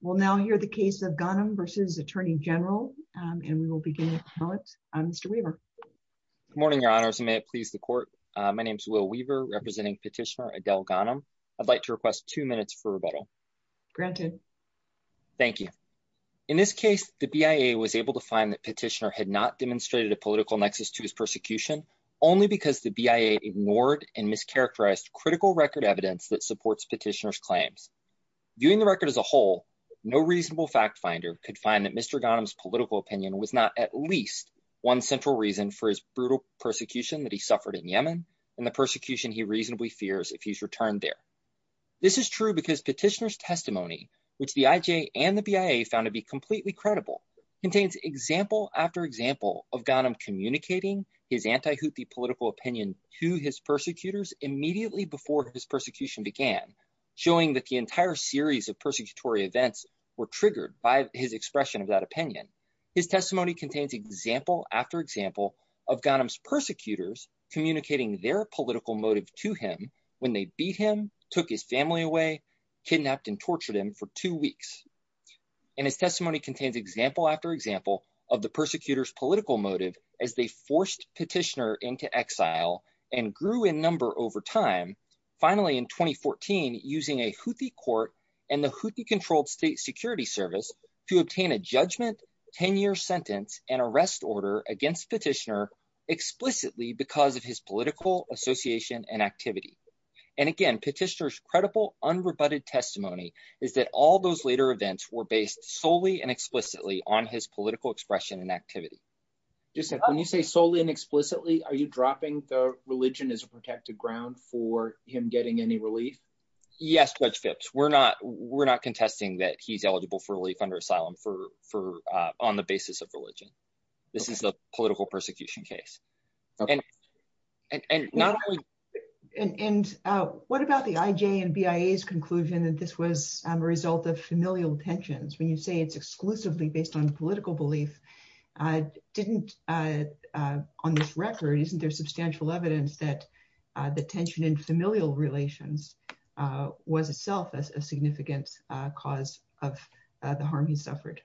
We'll now hear the case of Ghanem v. Attorney General, and we will begin with comments on Mr. Weaver. Good morning, Your Honors, and may it please the Court. My name is Will Weaver, representing Petitioner Adele Ghanem. I'd like to request two minutes for rebuttal. Granted. Thank you. In this case, the BIA was able to find that Petitioner had not demonstrated a political nexus to his persecution only because the BIA ignored and mischaracterized critical record evidence that supports Petitioner's No reasonable fact finder could find that Mr. Ghanem's political opinion was not at least one central reason for his brutal persecution that he suffered in Yemen and the persecution he reasonably fears if he's returned there. This is true because Petitioner's testimony, which the IJ and the BIA found to be completely credible, contains example after example of Ghanem communicating his anti-Houthi political opinion to his persecutors immediately before his persecution began, showing that the entire series of persecutory events were triggered by his expression of that opinion. His testimony contains example after example of Ghanem's persecutors communicating their political motive to him when they beat him, took his family away, kidnapped and tortured him for two weeks. And his testimony contains example after example of the persecutors political motive as they forced Petitioner into exile and grew in number over time finally in 2014 using a Houthi court and the Houthi-controlled state security service to obtain a judgment, 10-year sentence, and arrest order against Petitioner explicitly because of his political association and activity. And again, Petitioner's credible unrebutted testimony is that all those later events were based solely and explicitly on his political expression and activity. When you say solely and explicitly, are you dropping the religion as a protected ground for him getting any relief? Yes, Judge Phipps, we're not contesting that he's eligible for relief under asylum on the basis of religion. This is a political persecution case. And what about the IJ and BIA's conclusion that this was a result of familial tensions? When you say it's exclusively based on political belief, on this record, isn't there substantial evidence that the tension in familial relations was itself a significant cause of the harm he suffered?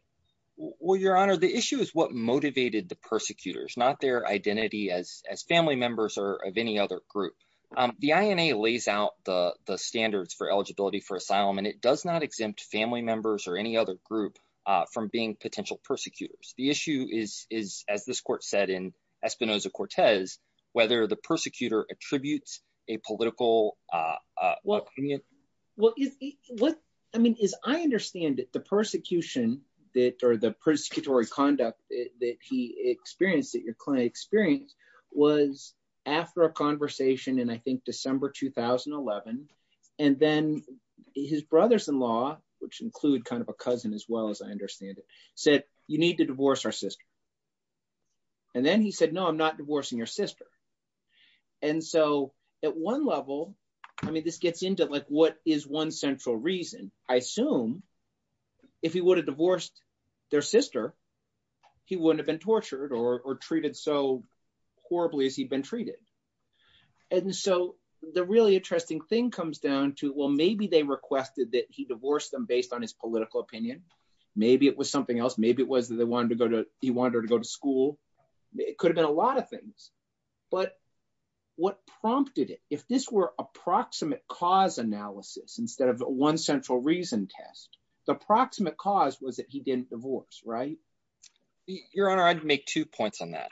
Well, Your Honor, the issue is what motivated the persecutors, not their identity as family members or of any other group. The INA lays out the standards for eligibility for asylum and it does not exempt family members or any other group from being potential persecutors. The issue is, as this court said in Espinoza-Cortez, whether the persecutor attributes a political opinion. Well, I mean, as I understand it, the persecution that, or the persecutory conduct that he experienced, that your client experienced, was after a conversation in, I think, December 2011. And then his brother-in-law, which include kind of a cousin as well as I understand it, said, you need to divorce our sister. And then he said, no, I'm not divorcing your sister. And so at one level, I mean, this gets into like, what is one central reason? I assume if he would have divorced their sister, he wouldn't have been tortured or treated so the really interesting thing comes down to, well, maybe they requested that he divorced them based on his political opinion. Maybe it was something else. Maybe it was that they wanted to go to, he wanted her to go to school. It could have been a lot of things, but what prompted it, if this were approximate cause analysis instead of one central reason test, the approximate cause was that he didn't divorce, right? Your Honor, I'd make two points on that.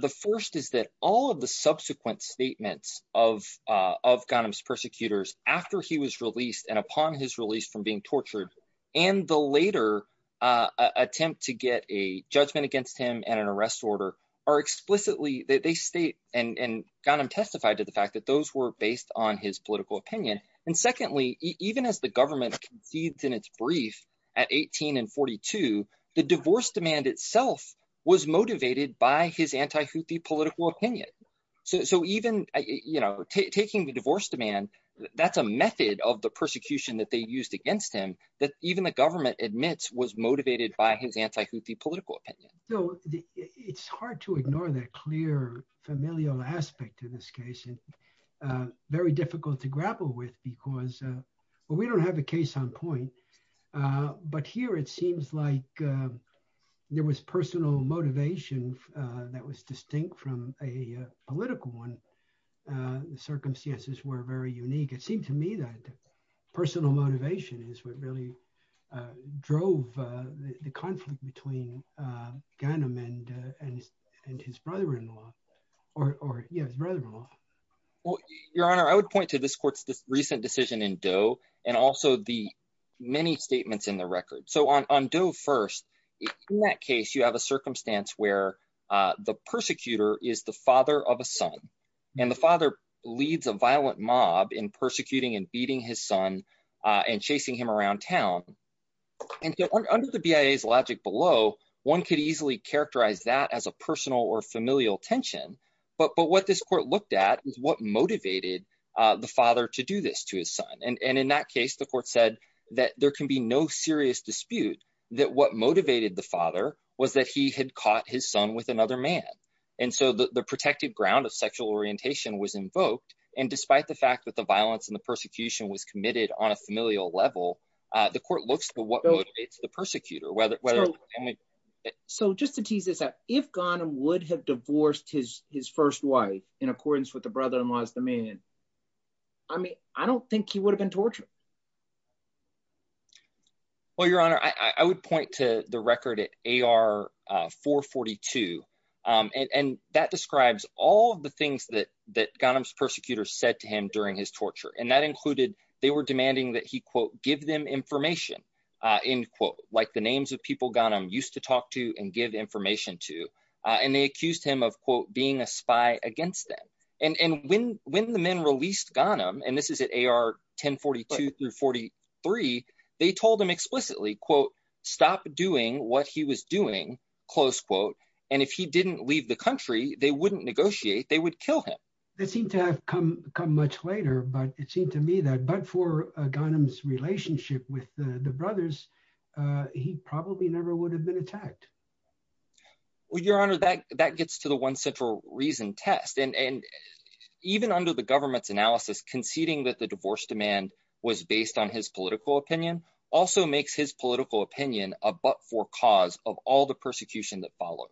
The first is that all of the subsequent statements of Ghanim's persecutors after he was released and upon his release from being tortured and the later attempt to get a judgment against him and an arrest order are explicitly, they state, and Ghanim testified to the fact that those were based on his political opinion. And secondly, even as the government concedes in its brief at 18 and 42, the divorce demand itself was motivated by his anti-Houthi political opinion. So even taking the divorce demand, that's a method of the persecution that they used against him that even the government admits was motivated by his anti-Houthi political opinion. So it's hard to ignore that clear familial aspect in this case and very difficult to grapple with because, well, we don't have a case on point. But here it seems like there was personal motivation that was distinct from a political one. The circumstances were very unique. It seemed to me that personal motivation is what really drove the conflict between Ghanim and his brother-in-law or his brother-in-law. Well, your honor, I would point to this court's recent decision in Doe and also the many statements in the record. So on Doe first, in that case you have a circumstance where the persecutor is the father of a son and the father leads a violent mob in persecuting and beating his son and chasing him around town. And so under the BIA's logic below, one could easily characterize that as a is what motivated the father to do this to his son. And in that case, the court said that there can be no serious dispute that what motivated the father was that he had caught his son with another man. And so the protected ground of sexual orientation was invoked. And despite the fact that the violence and the persecution was committed on a familial level, the court looks at what motivates the persecutor. So just to tease this out, if Ghanim would have divorced his first wife in accordance with the brother-in-law's demand, I mean, I don't think he would have been tortured. Well, your honor, I would point to the record at AR442 and that describes all the things that Ghanim's persecutors said to him during his torture. And that included, they were demanding that he quote, give them information in quote, like the names of people Ghanim used to talk to and give information to. And they accused him of quote, being a spy against them. And when the men released Ghanim, and this is at AR1042 through 43, they told him explicitly quote, stop doing what he was doing, close quote. And if he didn't leave the country, they wouldn't negotiate, they would kill him. That seemed to have come much later, but it seemed to me that, but for would have been attacked. Well, your honor, that gets to the one central reason test. And even under the government's analysis, conceding that the divorce demand was based on his political opinion, also makes his political opinion a but for cause of all the persecution that followed.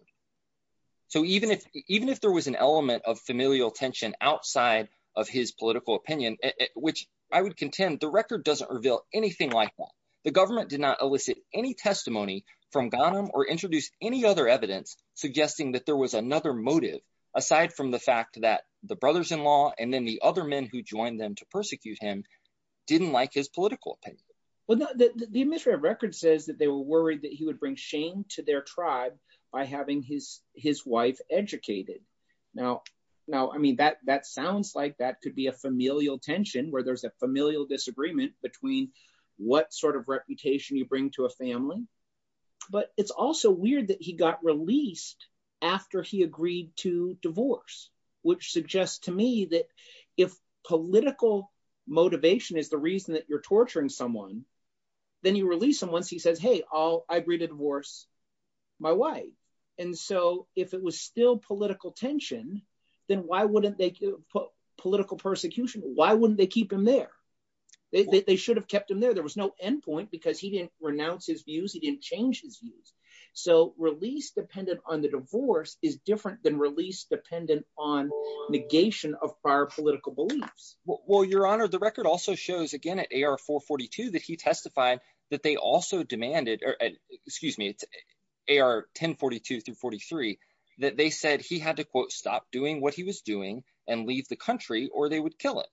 So even if there was an element of familial tension outside of his political opinion, which I would contend, the record doesn't reveal anything like that. The government did not elicit any testimony from Ghanim or introduce any other evidence suggesting that there was another motive, aside from the fact that the brothers-in-law and then the other men who joined them to persecute him didn't like his political opinion. Well, the administrative record says that they were worried that he would bring shame to their tribe by having his wife educated. Now, I mean, that sounds like that could be a familial tension where there's a familial disagreement between what sort of family, but it's also weird that he got released after he agreed to divorce, which suggests to me that if political motivation is the reason that you're torturing someone, then you release them once he says, hey, I agree to divorce my wife. And so if it was still political tension, then why wouldn't they put political persecution? Why wouldn't they keep him there? They should have changed his views. He didn't change his views. So release dependent on the divorce is different than release dependent on negation of prior political beliefs. Well, your honor, the record also shows again at AR-442 that he testified that they also demanded, or excuse me, it's AR-1042-43 that they said he had to, quote, stop doing what he was doing and leave the country or they would kill him.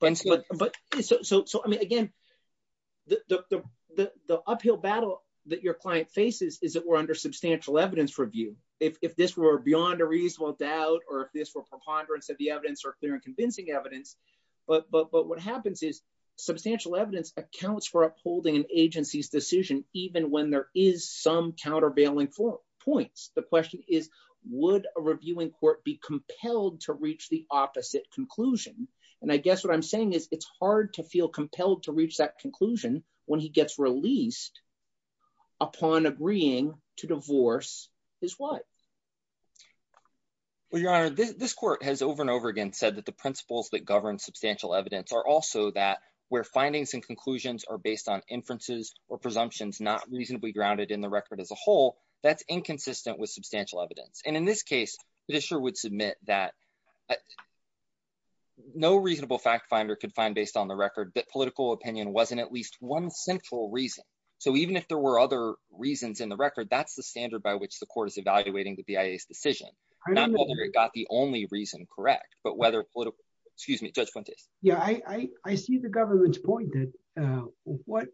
But so, I mean, again, the uphill battle that your client faces is that we're under substantial evidence review. If this were beyond a reasonable doubt or if this were preponderance of the evidence or clear and convincing evidence, but what happens is substantial evidence accounts for upholding an agency's decision even when there is some countervailing points. The question is, would a reviewing court be compelled to reach the opposite conclusion? And I guess what I'm saying is it's hard to feel compelled to reach that conclusion when he gets released upon agreeing to divorce his wife. Well, your honor, this court has over and over again said that the principles that govern substantial evidence are also that where findings and conclusions are based on inferences or with substantial evidence. And in this case, Fischer would submit that no reasonable fact finder could find based on the record that political opinion wasn't at least one central reason. So even if there were other reasons in the record, that's the standard by which the court is evaluating the BIA's decision, not whether it got the only reason correct, but whether political, excuse me, Judge Fuentes. Yeah, I see the government's point that what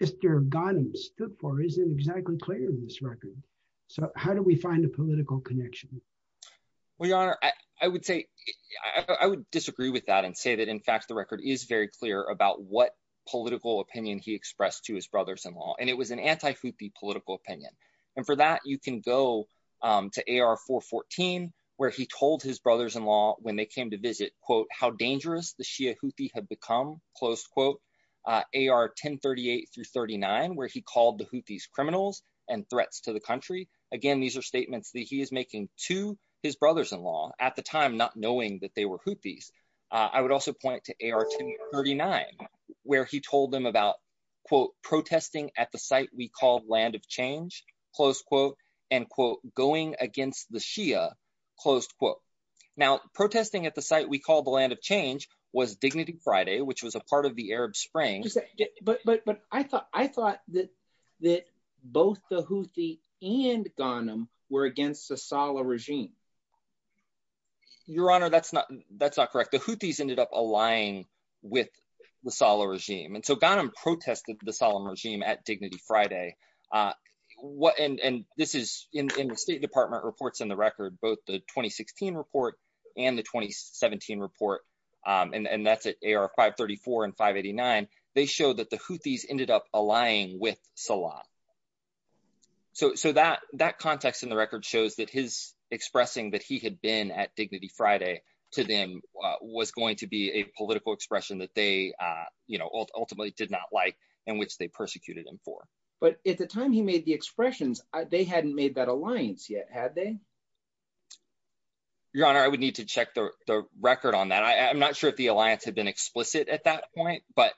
Mr. Ghanem stood for isn't exactly clear in this record. So how do we find a political connection? Well, your honor, I would say, I would disagree with that and say that in fact, the record is very clear about what political opinion he expressed to his brothers-in-law. And it was an anti-Houthi political opinion. And for that, you can go to AR 414, where he told his brothers-in-law when they came to visit, quote, how dangerous the Shia Houthi had become, close quote, AR 1038 through 39, where he called the Houthis criminals and threats to the country. Again, these are statements that he is making to his brothers-in-law at the time, not knowing that they were Houthis. I would also point to AR 1039, where he told them about, quote, protesting at the site we call Land of Change, close quote, and quote, going against the Shia, close quote. Now, protesting at the site we call the Land of Change was Dignity Friday, which was a part of the Arab Spring. But I thought that both the Houthi and Ghanim were against the Saleh regime. Your honor, that's not correct. The Houthis ended up allying with the Saleh regime. And so Ghanim protested the Saleh regime at Dignity Friday. And this is in the State Department reports in the record, both the 2016 report and the 2017 report, and that's at AR 534 and 589, they show that the Houthis ended up allying with Saleh. So that context in the record shows that his expressing that he had been at Dignity Friday to them was going to be a political expression that they, you know, ultimately did not like, and which they persecuted him for. But at the time he made the expressions, they hadn't made that alliance yet, had they? Your honor, I would need to check the record on that. I'm not sure if the alliance had been explicit at that point. But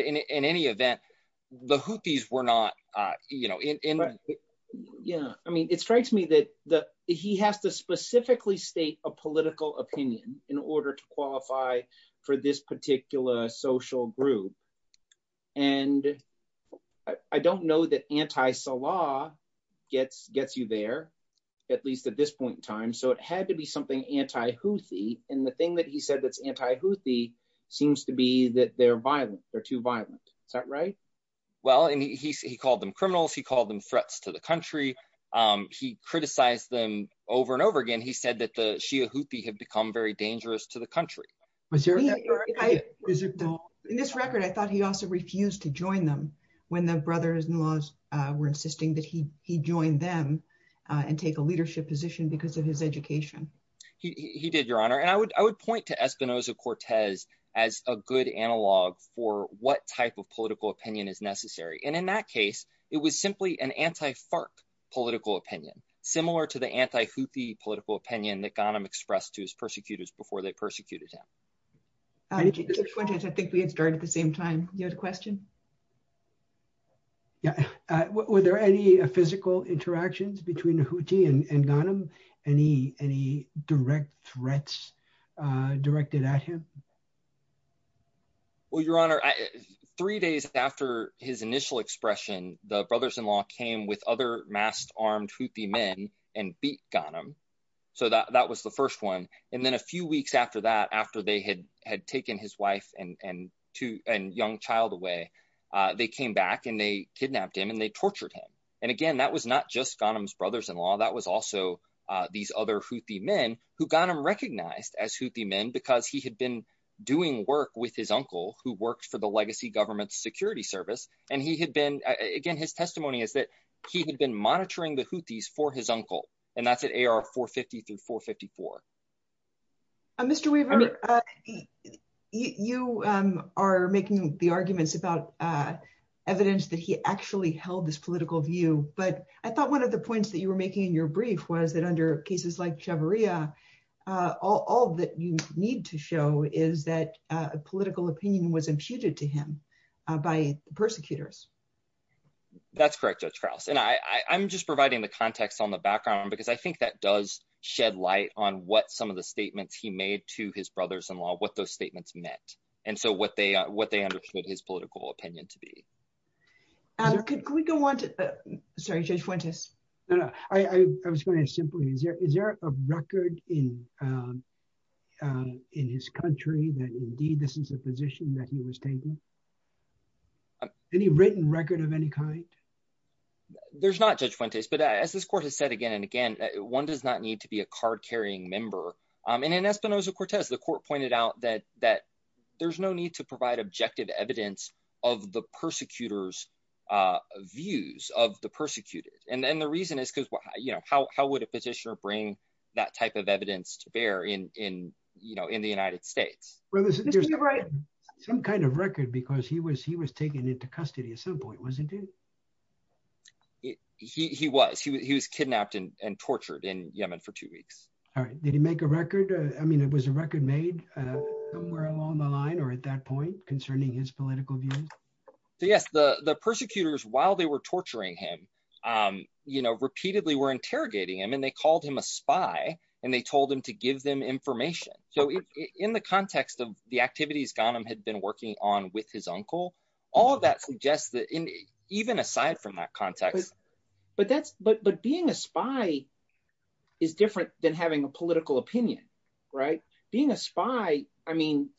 in any event, the Houthis were not, you know, in. Yeah, I mean, it strikes me that he has to specifically state a political opinion in order to qualify for this particular social group. And I don't know that anti-Saleh gets you there, at least at this point in time. So it had to be something anti-Houthi. And the thing that he said that's anti-Houthi seems to be that they're violent, they're too violent. Is that right? Well, and he called them criminals. He called them threats to the country. He criticized them over and over again. He said that the Shia Houthi have become very dangerous to the country. In this record, I thought he also refused to join them when the brothers-in-law were insisting that he join them and take a leadership position because of his education. He did, your honor. And I would point to Espinoza-Cortez as a good analog for what type political opinion is necessary. And in that case, it was simply an anti-FARC political opinion, similar to the anti-Houthi political opinion that Ghanim expressed to his persecutors before they persecuted him. I think we had started at the same time. You had a question? Yeah. Were there any physical interactions between Houthi and Ghanim? Any direct threats directed at him? Well, your honor, three days after his initial expression, the brothers-in-law came with other masked armed Houthi men and beat Ghanim. So that was the first one. And then a few weeks after that, after they had taken his wife and young child away, they came back and they kidnapped him and they tortured him. And again, that was not just Ghanim's brothers-in-law. That was also these other Houthi men who Ghanim recognized as Houthi men because he had been doing work with his uncle who worked for the legacy government security service. And he had been, again, his testimony is that he had been monitoring the Houthis for his uncle. And that's at AR 450 through 454. Mr. Weaver, you are making the arguments about evidence that he actually held this political view. But I thought one of the points that you making in your brief was that under cases like Chavarria, all that you need to show is that a political opinion was imputed to him by the persecutors. That's correct, Judge Krause. And I'm just providing the context on the background because I think that does shed light on what some of the statements he made to his brothers-in-law, what those statements meant, and so what they understood his political opinion to be. Could we go on to... Sorry, Judge Fuentes. No, no. I was going to simply... Is there a record in his country that indeed this is a position that he was taking? Any written record of any kind? There's not, Judge Fuentes. But as this court has said again and again, one does not need to be a card-carrying member. And in Espinoza-Cortez, the court pointed out that there's no need to provide objective evidence of the persecutors' views of the persecuted. And the reason is because how would a petitioner bring that type of evidence to bear in the United States? Well, there's some kind of record because he was taken into custody at some point, wasn't he? He was. He was kidnapped and tortured in Yemen for two weeks. All right. Did he make a record? I mean, it was a record made somewhere along the line or at that point concerning his political views? Yes. The persecutors, while they were torturing him, repeatedly were interrogating him and they called him a spy and they told him to give them information. So in the context of the activities Ghanim had been working on with his uncle, all of that suggests that even aside from that context... But being a spy is different than having a political opinion, right? Being a spy, I mean,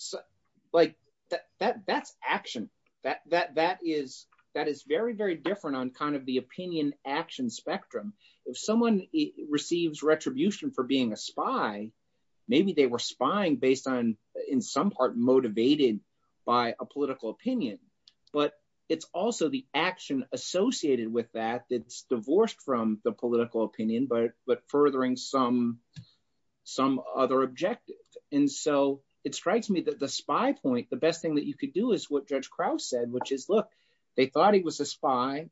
that's action. That is very, very different on the opinion-action spectrum. If someone receives retribution for being a spy, maybe they were spying based on, in some part, motivated by a political opinion. But it's also the action associated with that that's divorced from the political opinion, but furthering some other objective. And so it strikes me that the spy point, the best thing that you could do is what Judge Krauss said, which is, look, they thought he was a spy.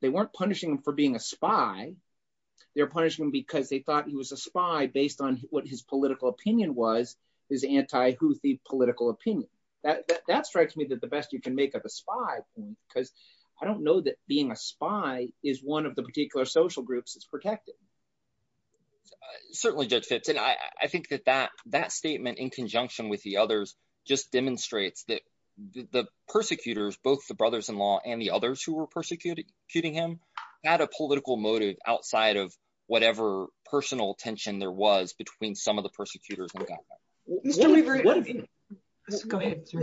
They weren't punishing him for being a spy. They were punishing him because they thought he was a spy based on what his political opinion was, his anti-Houthi political opinion. That strikes me that the best you can make of a spy because I don't know that being a spy is one of the particular social groups that's protected. Certainly, Judge Phipps. And I think that that statement in conjunction with the others just demonstrates that the persecutors, both the brothers-in-law and the others who were persecuting him, had a political motive outside of whatever personal tension there was between some of the persecutors and the government. Mr. Leverett, go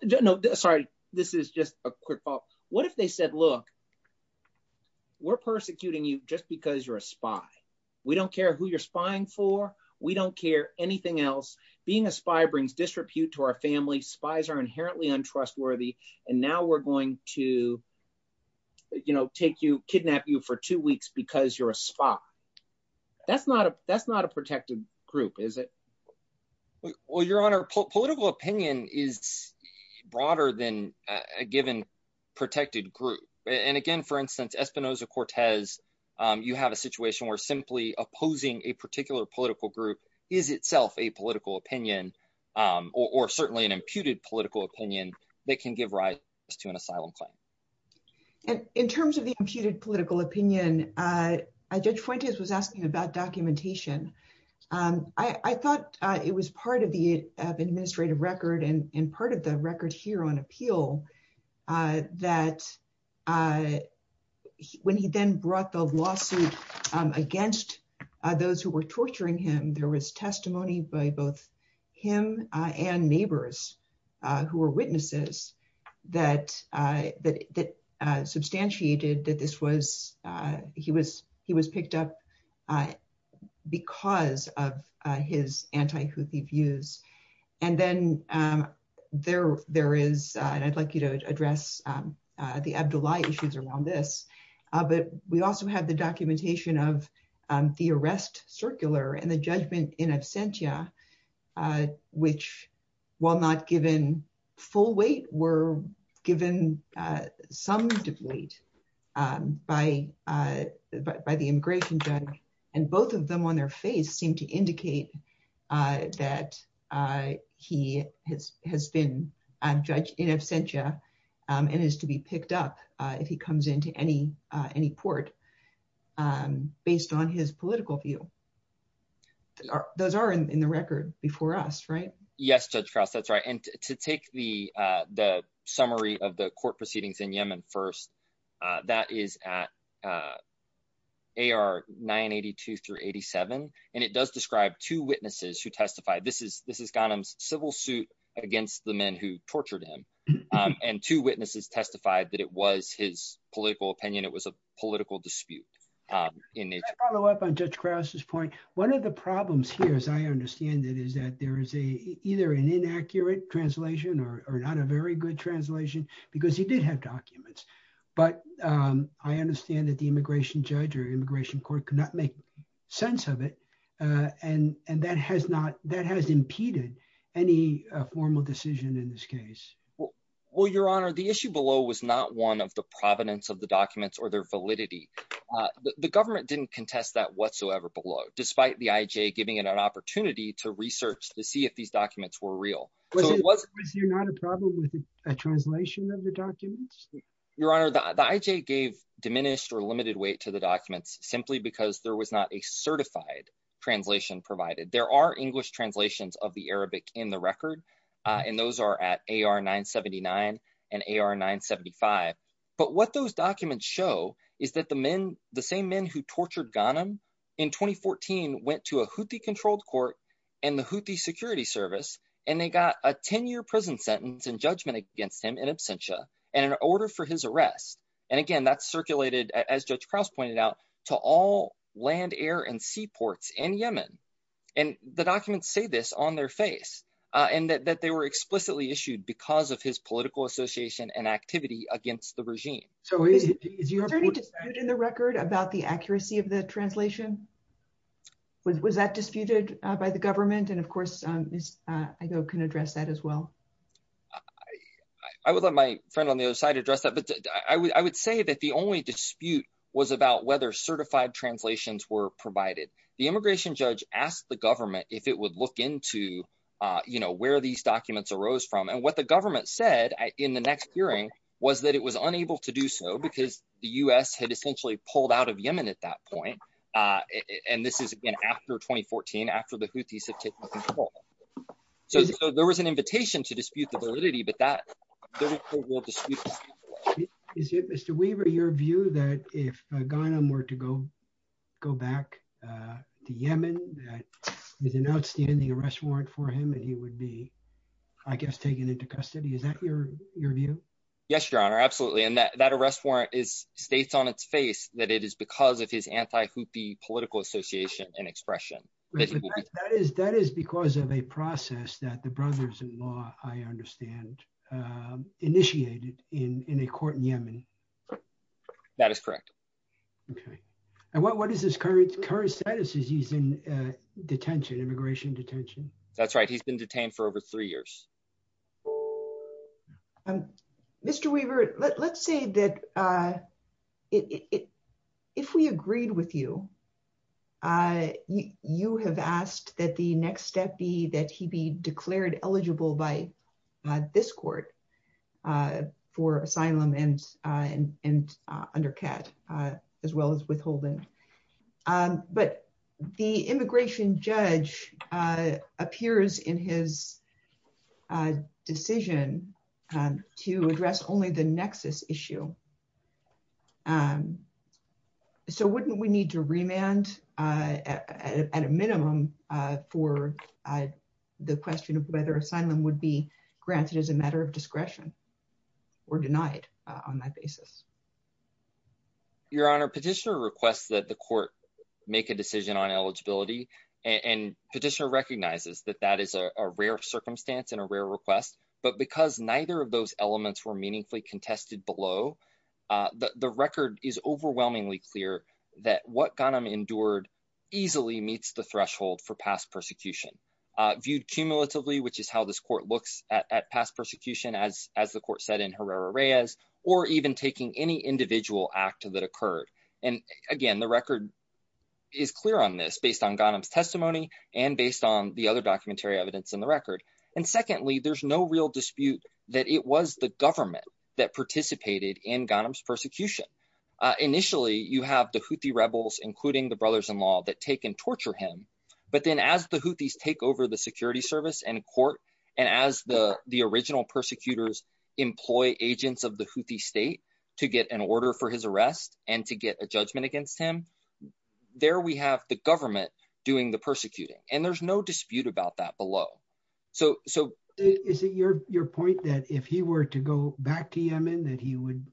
ahead. No, sorry. This is just a quick follow-up. What if they said, look, we're persecuting you just because you're a spy. We don't care who you're spying for. We don't care anything else. Being a spy brings disrepute to our family. Spies are inherently untrustworthy. And now we're going to, you know, take you, kidnap you for two weeks because you're a spy. That's not a protected group, is it? Well, Your Honor, political opinion is Espinoza-Cortez. You have a situation where simply opposing a particular political group is itself a political opinion or certainly an imputed political opinion that can give rise to an asylum claim. And in terms of the imputed political opinion, Judge Fuentes was asking about documentation. I thought it was part of the administrative record and part of the record here on appeal that when he then brought the lawsuit against those who were torturing him, there was testimony by both him and neighbors who were witnesses that substantiated that this was, he was picked up because of his anti-Houthi views. And then there is, and I'd like you to address the Abdullahi issues around this, but we also have the documentation of the arrest circular and the judgment in absentia, which, while not given full weight, were given some deplete by the immigration judge. And both of them on their face seem to indicate that he has been judged in absentia and is to be picked up if he comes into any port based on his political view. Those are in the record before us, right? Yes, Judge Krauss, that's right. And to take the summary of the court proceedings in Yemen first, that is at AR 982 through 87. And it does describe two witnesses who testified. This is Ghanem's civil suit against the men who tortured him. And two witnesses testified that it was his political opinion. It was a political dispute in nature. Can I follow up on Judge Krauss's point? One of the problems here, as I understand it, is that there is either an inaccurate translation or not a very good translation, because he did have documents. But I understand that the immigration judge or immigration court could not make sense of it. And that has impeded any formal decision in this case. Well, Your Honor, the issue below was not one of the provenance of the documents or their validity. The government didn't contest that whatsoever below, despite the IJ giving it an opportunity to research to see if these documents were real. Was there not a problem with a translation of the documents? Your Honor, the IJ gave diminished or limited weight to the documents simply because there was not a certified translation provided. There are English translations of the Arabic in the record. And those are at AR 979 and AR 975. But what those documents show is that the men, who tortured Ghanim in 2014, went to a Houthi-controlled court and the Houthi security service, and they got a 10-year prison sentence and judgment against him in absentia and an order for his arrest. And again, that's circulated, as Judge Krauss pointed out, to all land, air, and sea ports in Yemen. And the documents say this on their face, and that they were explicitly issued because of his political association and activity against the regime. Is there any dispute in the record about the accuracy of the translation? Was that disputed by the government? And of course, Ms. Igoe can address that as well. I would let my friend on the other side address that. But I would say that the only dispute was about whether certified translations were provided. The immigration judge asked the government if it would look into where these documents arose from. And what the government said in the next hearing was that it was unable to do so because the U.S. had essentially pulled out of Yemen at that point. And this is, again, after 2014, after the Houthis had taken control. So there was an invitation to dispute the validity, but that will dispute. Is it, Mr. Weaver, your view that if Ghanim were to go back to Yemen, there's an outstanding arrest warrant for him and he would be, I guess, taken into custody? Is that your view? Yes, Your Honor. Absolutely. And that arrest warrant states on its face that it is because of his anti-Houthi political association and expression. That is because of a process that the brothers-in-law, I understand, initiated in a court in Yemen. That is correct. Okay. And what is his current status as he's in detention, immigration detention? That's right. He's been detained for over three years. Mr. Weaver, let's say that if we agreed with you, you have asked that the next step be that he be declared eligible by this court for asylum and under CAT as well as withholding. But the immigration judge appears in his decision to address only the nexus issue. So wouldn't we need to remand at a minimum for the question of whether asylum would be granted as a matter of discretion or denied on that basis? Your Honor, petitioner requests that the court make a decision on eligibility and petitioner recognizes that that is a rare circumstance and a rare request. But because neither of those elements were meaningfully contested below, the record is overwhelmingly clear that what Ghanem endured easily meets the threshold for past persecution viewed cumulatively, which is how this court looks at past persecution as the court said in Herrera-Reyes or even taking any individual act that occurred. And again, the record is clear on this based on Ghanem's testimony and based on the other documentary evidence in the record. And secondly, there's no real dispute that it was the government that participated in Ghanem's persecution. Initially, you have the Houthi rebels, including the brothers-in-law that take and torture him. But then as the Houthis take over the security service and court, and as the original persecutors employ agents of the Houthi state to get an order for his arrest and to get a judgment against him, there we have the government doing the persecuting. And there's no dispute about that below. So is it your point that if he were to go back to Yemen, that he would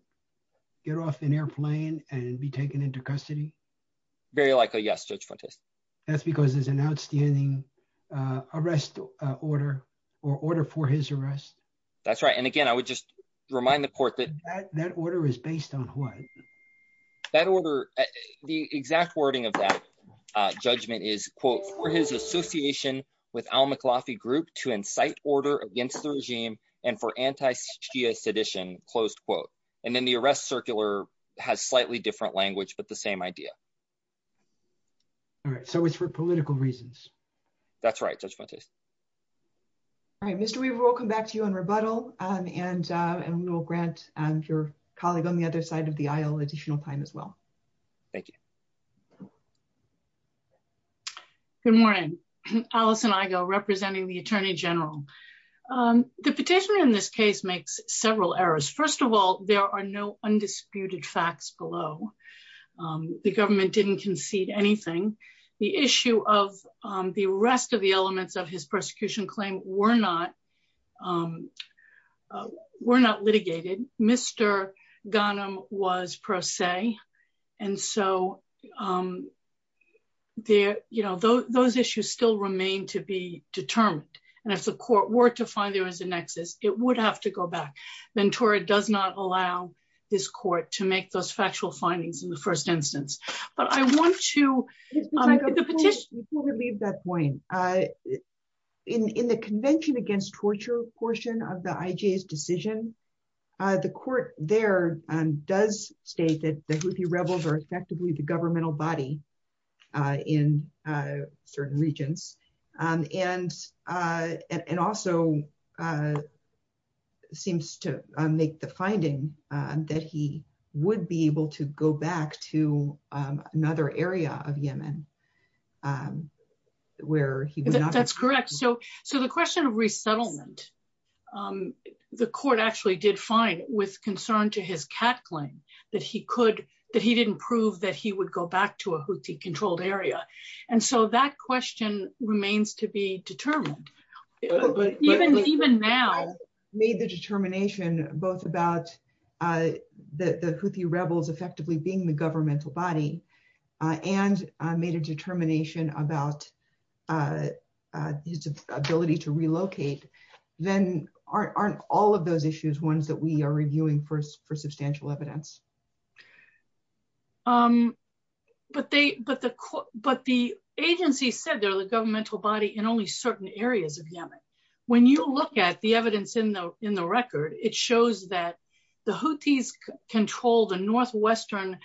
get off an airplane and be taken into custody? Very likely, yes, Judge Fuentes. That's because there's an outstanding arrest order or order for his arrest? That's right. And again, I would just remind the court that. That order is based on what? That order, the exact wording of that judgment is, for his association with al-Muklafi group to incite order against the regime and for anti-Shia sedition, closed quote. And then the arrest circular has slightly different language, but the same idea. All right, so it's for political reasons. That's right, Judge Fuentes. All right, Mr. Weaver, we'll come back to you on rebuttal and we'll grant your colleague on the other side of the aisle additional time as well. Thank you. Good morning, Alison Igo representing the Attorney General. The petition in this case makes several errors. First of all, there are no undisputed facts below. The government didn't concede anything. The issue of the rest of the elements of his persecution claim were not were not litigated. Mr. Ghanem was per se. And so there, you know, those issues still remain to be determined. And if the court were to find there was a nexus, it would have to go back. Ventura does not allow this court to make those factual findings in the first instance. But I want to petition to leave that point in the Convention Against Torture portion of the IJ's decision. The court there does state that the Houthi rebels are effectively the governmental body in certain regions and and also seems to make the finding that he would be able to go back to another area of Yemen where he was. That's correct. So so the question of resettlement, the court actually did fine with concern to his cat claim that he could that he didn't prove that he would go back to a Houthi controlled area. And so that question remains to be determined. Even now, made the determination both about the Houthi rebels effectively being the governmental body and made a determination about his ability to relocate, then aren't all of those issues ones that we are reviewing for substantial evidence. But the agency said they're the governmental body in only certain areas of Yemen. When you look at the evidence in the record, it shows that the Houthis controlled a northwestern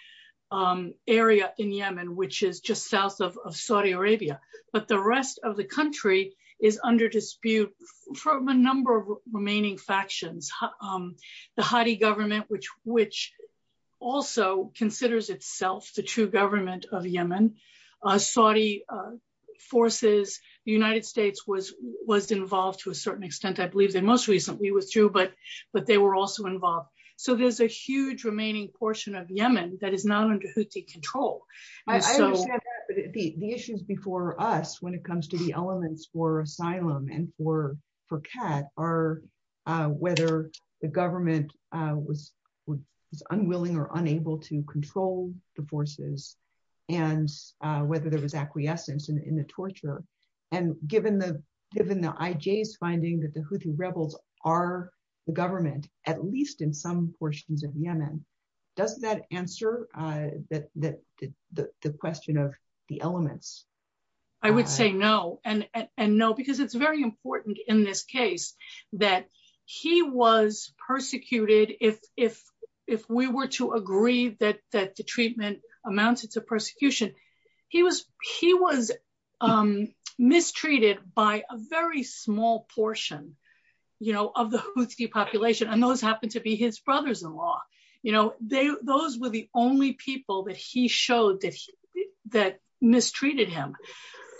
area in Yemen, which is just south of Saudi Arabia. But the rest of the country is under dispute from a number of remaining factions. The Hadi government, which which also considers itself the true government of Yemen, Saudi forces, the United States was was involved to a certain extent, I believe that most recently was true, but they were also involved. So there's a huge remaining portion of Yemen that is not under Houthi control. So the issues before us when it comes to the elements for asylum and for for cat are whether the government was was unwilling or unable to control the forces and whether there was acquiescence in the torture. And given the given the IJ's finding that the Houthi rebels are the government, at least in some portions of Yemen, does that answer that the question of the elements? I would say no, and no, because it's very important in this case, that he was persecuted if if if we were to agree that that the treatment amounts to persecution, he was he was mistreated by a very small portion, you know, of the Houthi population. And those happened to be his brothers in law. You know, they those were the only people that he showed that that mistreated him.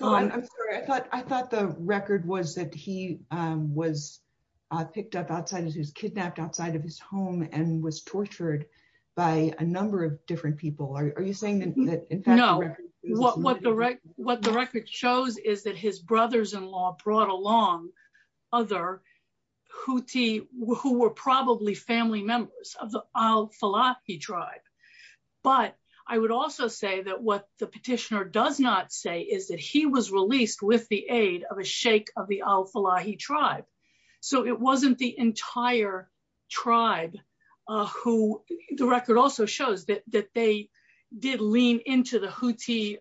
I'm sorry, I thought I thought the record was that he was picked up outside of his kidnapped outside of his home and was tortured by a number of different people. Are you saying that? No, what what the record what the record shows is that his brothers in law brought along other Houthi who were probably family members of the Al-Falahi tribe. But I would also say that what the petitioner does not say is that he was released with the aid of a shake of the Al-Falahi tribe. So it wasn't the entire tribe who the record also shows that that they did lean into the Houthi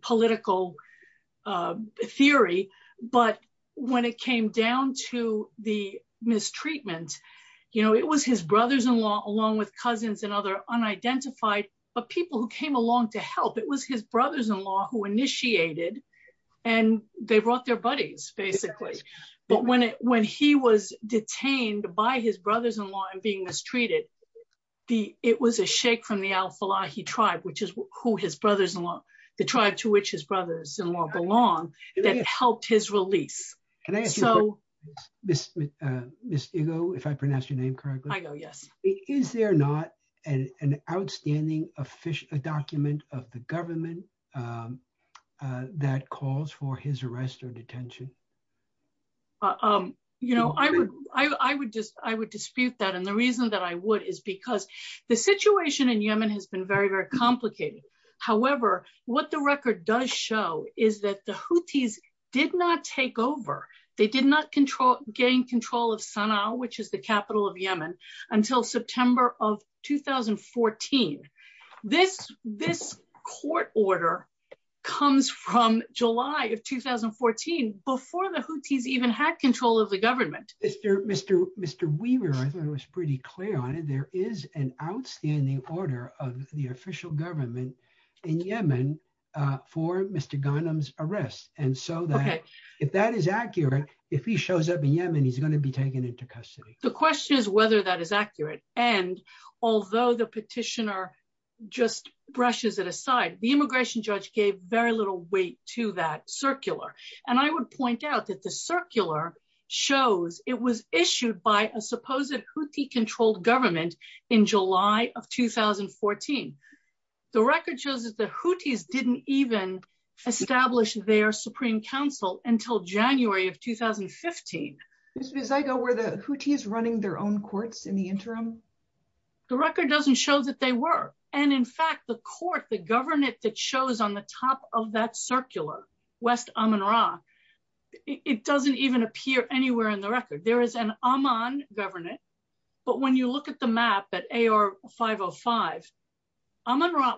political theory. But when it came down to the mistreatment, you know, it was his brothers in law, along with cousins and other unidentified people who came along to help. It was his brothers in law who initiated and they brought their buddies, basically. But when when he was detained by his brothers in law and being mistreated, it was a shake from the Al-Falahi tribe, which is who his brothers in law, the tribe to which his brothers in law belong, that helped his release. Can I ask you a question, Ms. Igo, if I pronounced your name correctly? Igo, yes. Is there not an outstanding official document of the government that calls for his arrest or detention? You know, I would dispute that. And the reason that I would is because the situation in Yemen has been very, very complicated. However, what the record does show is that the Houthis did not take over. They did not gain control of Sana'a, which is the capital of Yemen, until September of 2014. This court order comes from July of 2014, before the Houthis even had control of the government. Mr. Weaver, I thought it was pretty clear on it, there is an outstanding order of the official government in Yemen for Mr. Ghanem's arrest. And so that if that is accurate, if he shows up in Yemen, he's going to be taken into custody. The question is whether that is accurate. And although the petitioner just brushes it aside, the immigration judge gave very little weight to that circular. And I would point out that the in July of 2014. The record shows that the Houthis didn't even establish their Supreme Council until January of 2015. Ms. Bizigo, were the Houthis running their own courts in the interim? The record doesn't show that they were. And in fact, the court, the government that shows on the top of that circular, West Amman Ra, it doesn't even appear anywhere in the record. There is an government. But when you look at the map at AR 505,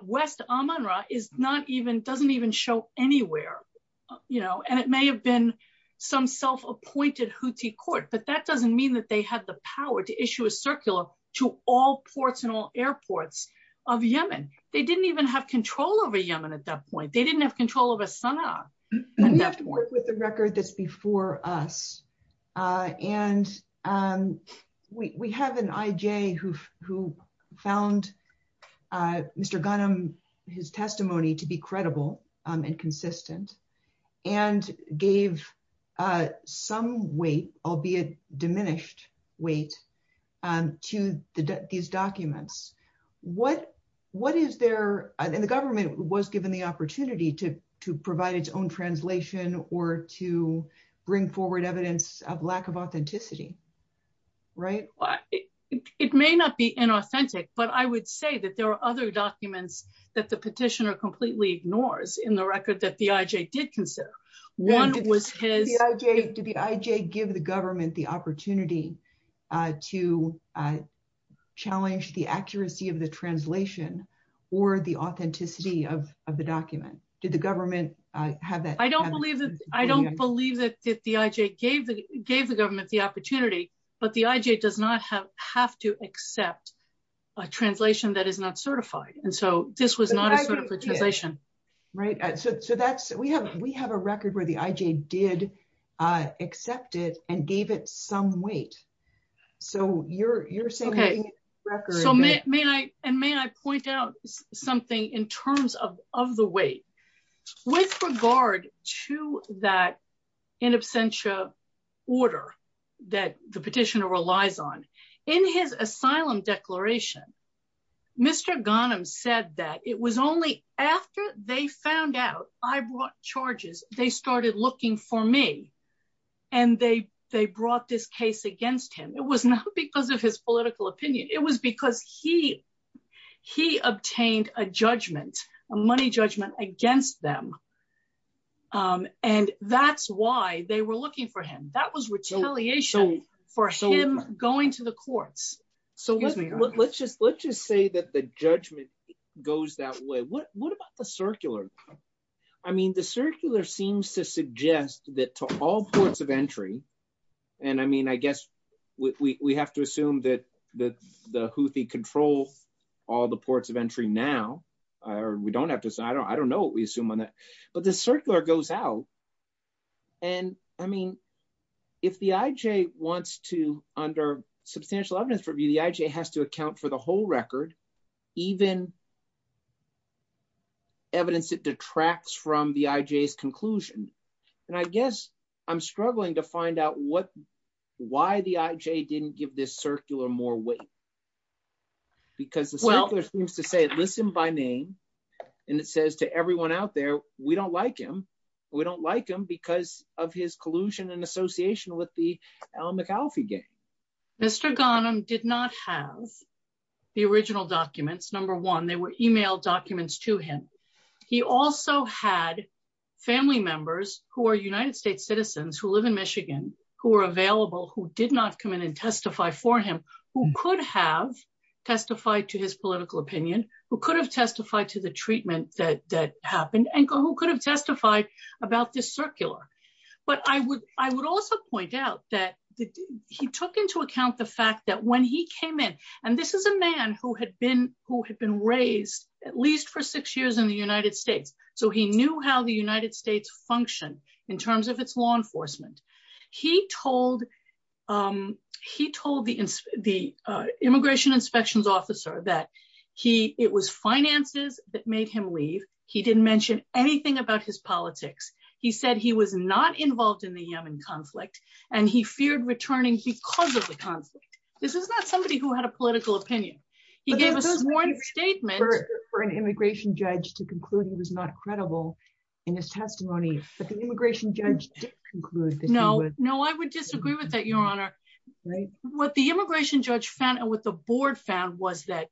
West Amman Ra is not even doesn't even show anywhere, you know, and it may have been some self appointed Houthi court, but that doesn't mean that they had the power to issue a circular to all ports and all airports of Yemen. They didn't even have control over Yemen at that point. They didn't have control over Sanaa. We have to work with the record that's before us. And we have an IJ who, who found Mr. Ghanem, his testimony to be credible and consistent, and gave some weight, albeit diminished weight, to these documents. What, what is there in the government was given the opportunity to provide its own translation or to bring forward evidence of lack of authenticity? Right? It may not be inauthentic, but I would say that there are other documents that the petitioner completely ignores in the record that the IJ did consider. One was his... Did the IJ give the government the opportunity to challenge the accuracy of the translation, or the authenticity of the document? Did the government have that? I don't believe that. I don't believe that the IJ gave the, gave the government the opportunity, but the IJ does not have, have to accept a translation that is not certified. And so this was not a certification. Right. So that's, we have, we have a record where the IJ did accept it and gave it some weight. So you're, you're saying... Okay. So may, may I, and may I point out something in terms of, of the weight with regard to that in absentia order that the petitioner relies on. In his asylum declaration, Mr. Ghanem said that it was only after they found out I brought charges, they started looking for me and they, they brought this case against him. It was not because of his political opinion. It was because he, he obtained a judgment, a money judgment against them. And that's why they were looking for him. That was retaliation for him going to the courts. So let's just, let's just say that the judgment goes that way. What, what about the circular? I mean, the circular seems to suggest that to all ports of entry, and I mean, I guess we have to assume that the Houthi control all the ports of entry now, or we don't have to, I don't know what we assume on that, but the circular goes out. And I mean, if the IJ wants to, under substantial evidence review, the IJ has to account for the whole record, even evidence that detracts from the IJ's conclusion. And I guess I'm struggling to find out what, why the IJ didn't give this circular more weight. Because the circular seems to say, listen by name, and it says to everyone out there, we don't like him. We don't like him because of his collusion and association with the Alan McAlfee gang. Mr. Ghanem did not have the original documents. Number one, they were email documents to him. He also had family members who are United States citizens, who live in Michigan, who were available, who did not come in and testify for him, who could have testified to his political opinion, who could have testified to the treatment that, that happened, and who could have testified about this circular. But I would, I would also point out that he took into account the fact that when he came in, and this is a man who had been, who had been raised at least for six years in the United States, so he knew how the United States functioned in terms of its law enforcement. He told, he told the, the immigration inspections officer that he, it was finances that made him leave. He didn't mention anything about his politics. He said he was not involved in the conflict. This is not somebody who had a political opinion. He gave a sworn statement for an immigration judge to conclude he was not credible in his testimony, but the immigration judge did conclude that he would. No, no, I would disagree with that, your honor. Right. What the immigration judge found, and what the board found, was that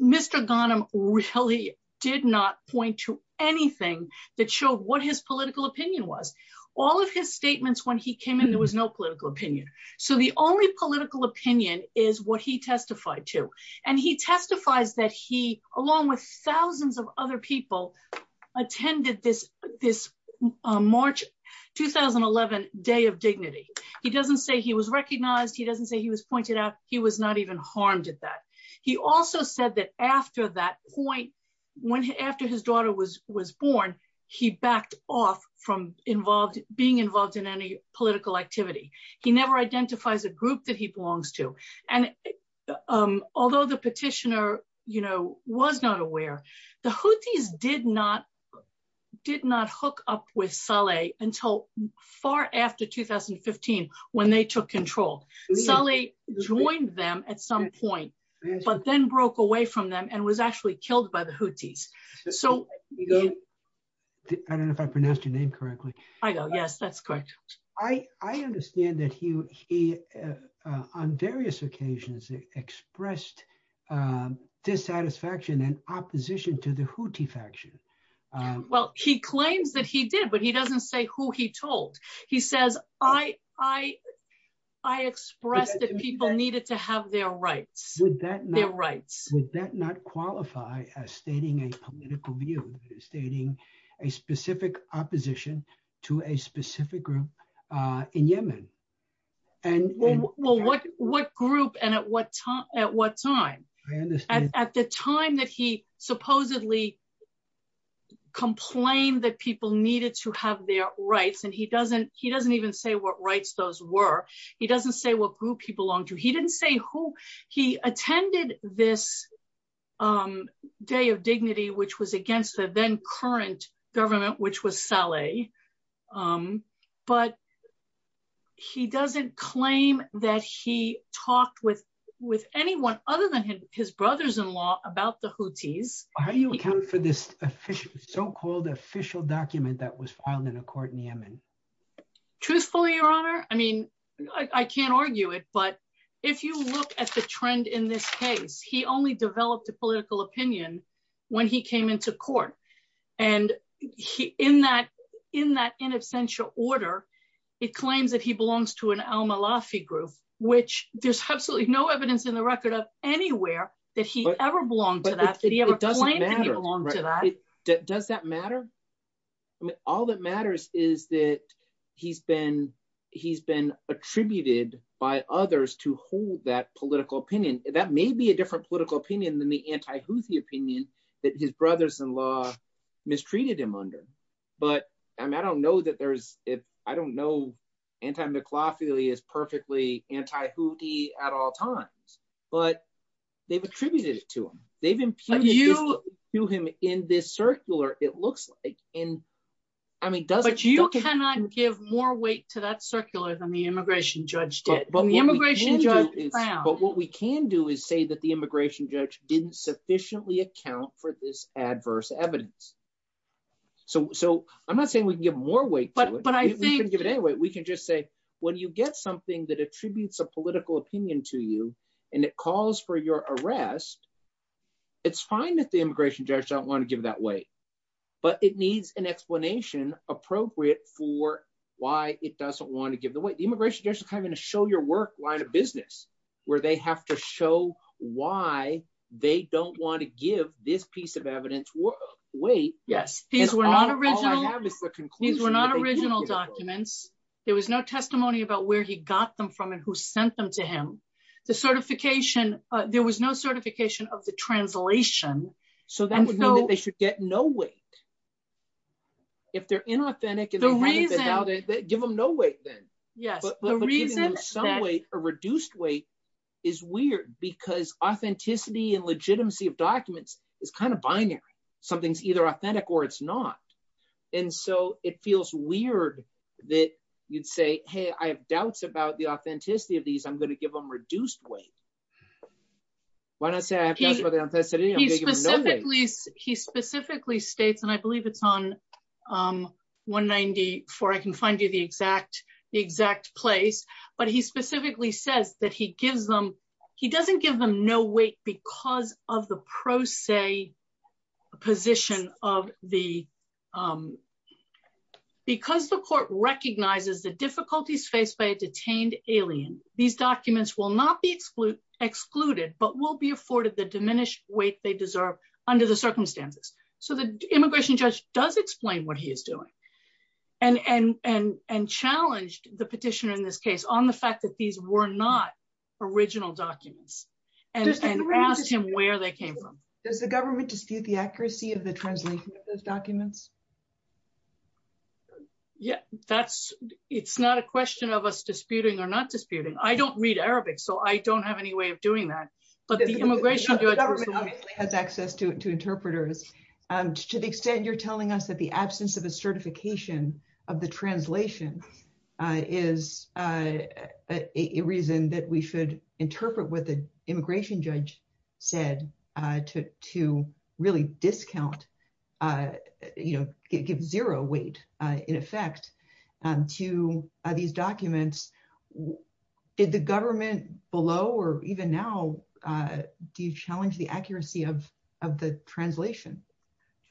Mr. Ghanem really did not point to anything that showed what his political opinion was. All of his statements when he came in, there was no political opinion. So the only political opinion is what he testified to, and he testifies that he, along with thousands of other people, attended this, this March 2011 Day of Dignity. He doesn't say he was recognized. He doesn't say he was pointed out. He was not even harmed at that. He also said that after that point, when, after his daughter was, was born, he backed off from involved, being involved in any political activity. He never identifies a group that he belongs to, and although the petitioner, you know, was not aware, the Houthis did not, did not hook up with Saleh until far after 2015, when they took control. Saleh joined them at some point, but then broke away from them and was actually killed by the I understand that he, he, on various occasions, expressed dissatisfaction and opposition to the Houthi faction. Well, he claims that he did, but he doesn't say who he told. He says, I, I, I expressed that people needed to have their rights, their rights. Would that not qualify as stating a specific opposition to a specific group in Yemen? Well, what, what group and at what time, at what time? I understand. At the time that he supposedly complained that people needed to have their rights, and he doesn't, he doesn't even say what rights those were. He doesn't say what group he belonged to. He didn't say who. He attended this Day of Dignity, which was against the then current government, which was Saleh. But he doesn't claim that he talked with, with anyone other than his brothers-in-law about the Houthis. How do you account for this official, so-called official document that was filed in a court in Yemen? Truthfully, Your Honor, I mean, I can't argue it. But if you look at the trend in this case, he only developed a political opinion when he came into court. And he, in that, in that in absentia order, it claims that he belongs to an al-Malafi group, which there's absolutely no evidence in the record of anywhere that he ever belonged to that, that he ever claimed that he belonged to that. Does that matter? I mean, all that matters is that he's been, he's been attributed by others to hold that political opinion. That may be a different political opinion than the anti-Houthi opinion that his brothers-in-law mistreated him under. But, I mean, I don't know that there's, if, I don't know, anti-McLaughlin is perfectly anti-Houthi at all times, but they've attributed it to him. They've impugned it to him in this circular, it looks like, in, I mean, doesn't- But you cannot give more weight to that circular than the immigration judge did. The immigration judge is- But what we can do is say that the immigration judge didn't sufficiently account for this adverse evidence. So, so I'm not saying we can give more weight to it, we can give it any weight, we can just say, when you get something that attributes a political opinion to you, and it calls for your arrest, it's fine that the immigration judge don't want to give that weight. But it needs an explanation appropriate for why it doesn't want to give the weight. The line-of-business, where they have to show why they don't want to give this piece of evidence weight. Yes, these were not original. These were not original documents. There was no testimony about where he got them from and who sent them to him. The certification, there was no certification of the translation. So that would mean that they should get no weight. If they're inauthentic and- The reason- Give them no weight then. Yes, the reason- But giving them some weight, a reduced weight, is weird because authenticity and legitimacy of documents is kind of binary. Something's either authentic or it's not. And so it feels weird that you'd say, hey, I have doubts about the authenticity of these, I'm going to give them reduced weight. Why not say I have doubts about the authenticity, I'm going to give them no weight? He specifically states, and I believe it's on 194, I can find you the exact place. But he specifically says that he doesn't give them no weight because of the pro se position of the- Because the court recognizes the difficulties faced by a detained alien, these documents will not be excluded, but will be afforded the diminished weight they deserve under the circumstances. So the immigration judge does explain what he is doing and challenged the petitioner in this case on the fact that these were not original documents and asked him where they came from. Does the government dispute the accuracy of the translation of those documents? Yeah, that's, it's not a question of us disputing or not disputing. I don't read Arabic, so I don't have any way of doing that. But the immigration judge has access to interpreters. To the extent you're telling us that the absence of a certification of the translation is a reason that we should interpret what the immigration judge said to really discount, you know, give zero weight, in effect, to these documents, did the government below, or even now, do you challenge the accuracy of the translation?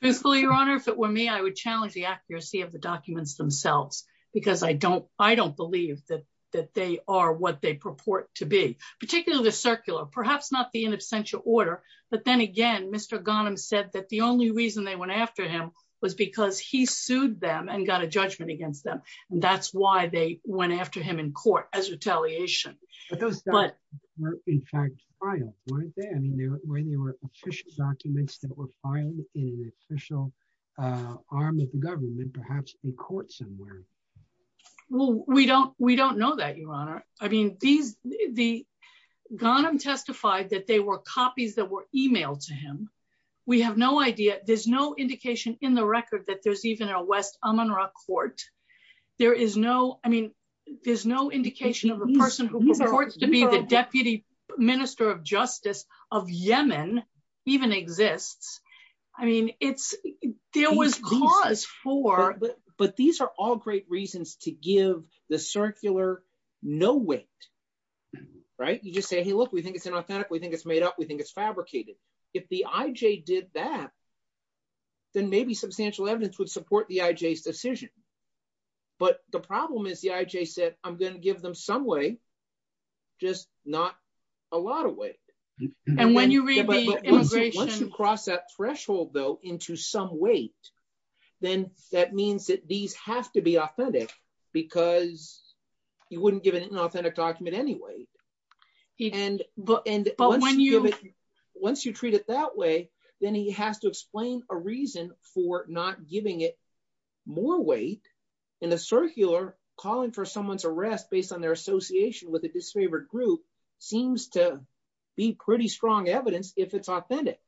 Your Honor, if it were me, I would challenge the accuracy of the documents themselves, because I don't believe that they are what they purport to be, particularly the circular, perhaps not the in absentia order. But then again, Mr. Ghanem said that the only reason they went after him was because he sued them and got a judgment against them. And that's why they went after him in court as retaliation. But those documents were, in fact, filed, weren't they? I mean, were they official documents that were filed in an official arm of the government, perhaps in court somewhere? Well, we don't, we don't know that, Your Honor. I mean, these, the, Ghanem testified that they were copies that were emailed to him. We have no idea, there's no indication in the record that there's even a West Amunra court. There is no, I mean, there's no indication of a person who purports to be the Deputy Minister of Justice of Yemen even exists. I mean, it's, there was cause for... But these are all great reasons to give the circular no weight, right? You just say, look, we think it's inauthentic, we think it's made up, we think it's fabricated. If the IJ did that, then maybe substantial evidence would support the IJ's decision. But the problem is the IJ said, I'm going to give them some weight, just not a lot of weight. And when you read the immigration... Once you cross that threshold, though, into some weight, then that means that these have to be And once you treat it that way, then he has to explain a reason for not giving it more weight. And the circular calling for someone's arrest based on their association with a disfavored group seems to be pretty strong evidence if it's authentic.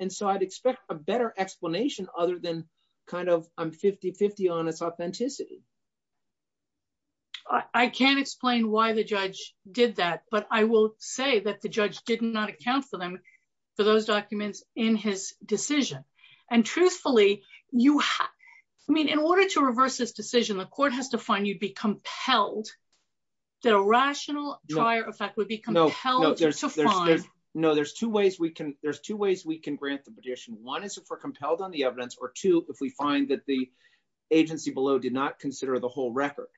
And so I'd expect a better explanation other than kind of, I'm 50-50 on its authenticity. I can't explain why the judge did that. But I will say that the judge did not account for them for those documents in his decision. And truthfully, you have... I mean, in order to reverse this decision, the court has to find you'd be compelled, that a rational prior effect would be compelled to find... No, there's two ways we can grant the petition. One is if we're compelled on the evidence, or two, if we find that the agency below did not consider the whole record.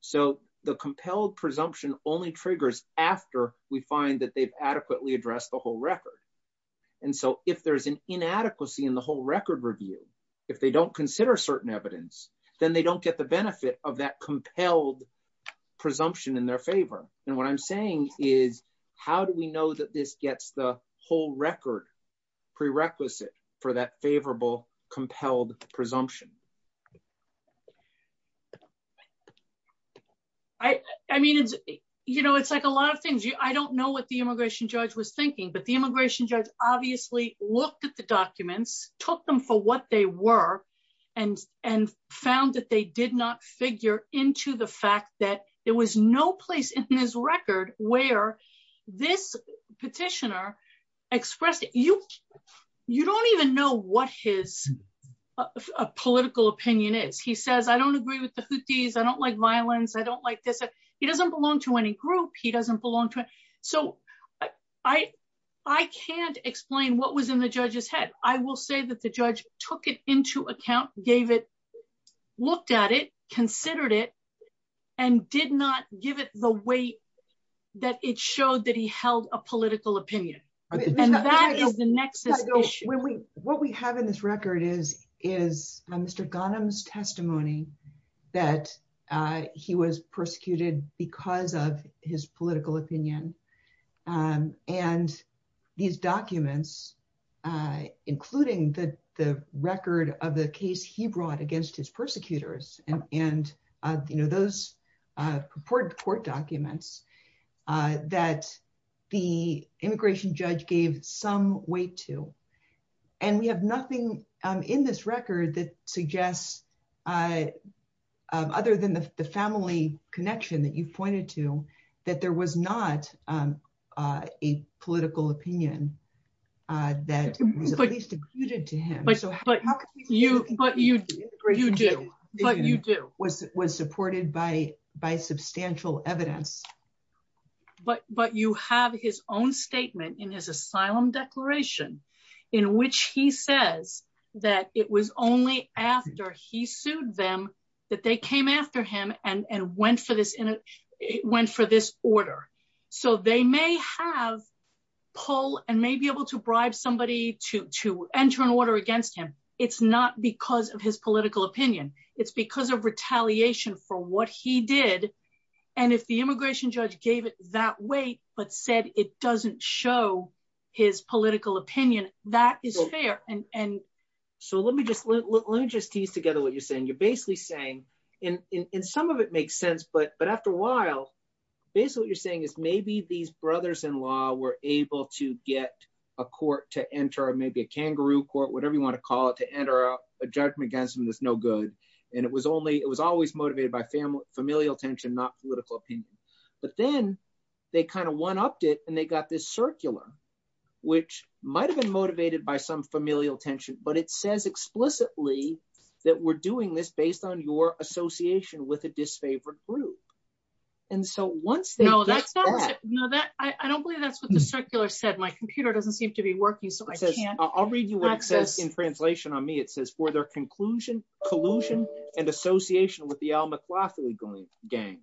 So the compelled presumption only triggers after we find that they've adequately addressed the whole record. And so if there's an inadequacy in the whole record review, if they don't consider certain evidence, then they don't get the benefit of that compelled presumption in their favor. And what I'm saying is, how do we know that this gets the record prerequisite for that favorable compelled presumption? I mean, it's like a lot of things. I don't know what the immigration judge was thinking, but the immigration judge obviously looked at the documents, took them for what they were, and found that they did not figure into the fact that there was no place in his record where this petitioner expressed... You don't even know what his political opinion is. He says, I don't agree with the Houthis. I don't like violence. I don't like this. He doesn't belong to any group. He doesn't belong to... So I can't explain what was in the judge's head. I will say that the judge took it into account, gave it, looked at it, considered it, and did not give it the weight that it showed that he held a political opinion. And that is the nexus issue. What we have in this record is Mr. Ghanem's testimony that he was persecuted because of his political opinion. And these documents, including the record of the case he brought against his persecutors and those court documents that the immigration judge gave some weight to. And we have nothing in this record that suggests, other than the family connection that you pointed to, that there was not a political opinion that was at least imputed to him. But you do. But you do. Was supported by substantial evidence. But you have his own statement in his asylum declaration in which he says that it was only after he sued them that they came after him and went for this order. So they may have pull and may be able to bribe somebody to enter an order against him. It's not because of his political opinion. It's because of retaliation for what he did. And if the immigration judge gave it that weight but said it doesn't show his political opinion, that is fair. So let me just tease together what you're saying. You're basically but after a while, basically what you're saying is maybe these brothers-in-law were able to get a court to enter, maybe a kangaroo court, whatever you want to call it, to enter a judgment against him that's no good. And it was always motivated by familial tension, not political opinion. But then they kind of one-upped it and they got this circular, which might have been motivated by some familial tension. But it says explicitly that we're doing this based on your association with a disfavored group. And so once they know that, I don't believe that's what the circular said. My computer doesn't seem to be working. So I can't. I'll read you what it says in translation on me. It says for their conclusion, collusion, and association with the Al McLaughlin gang.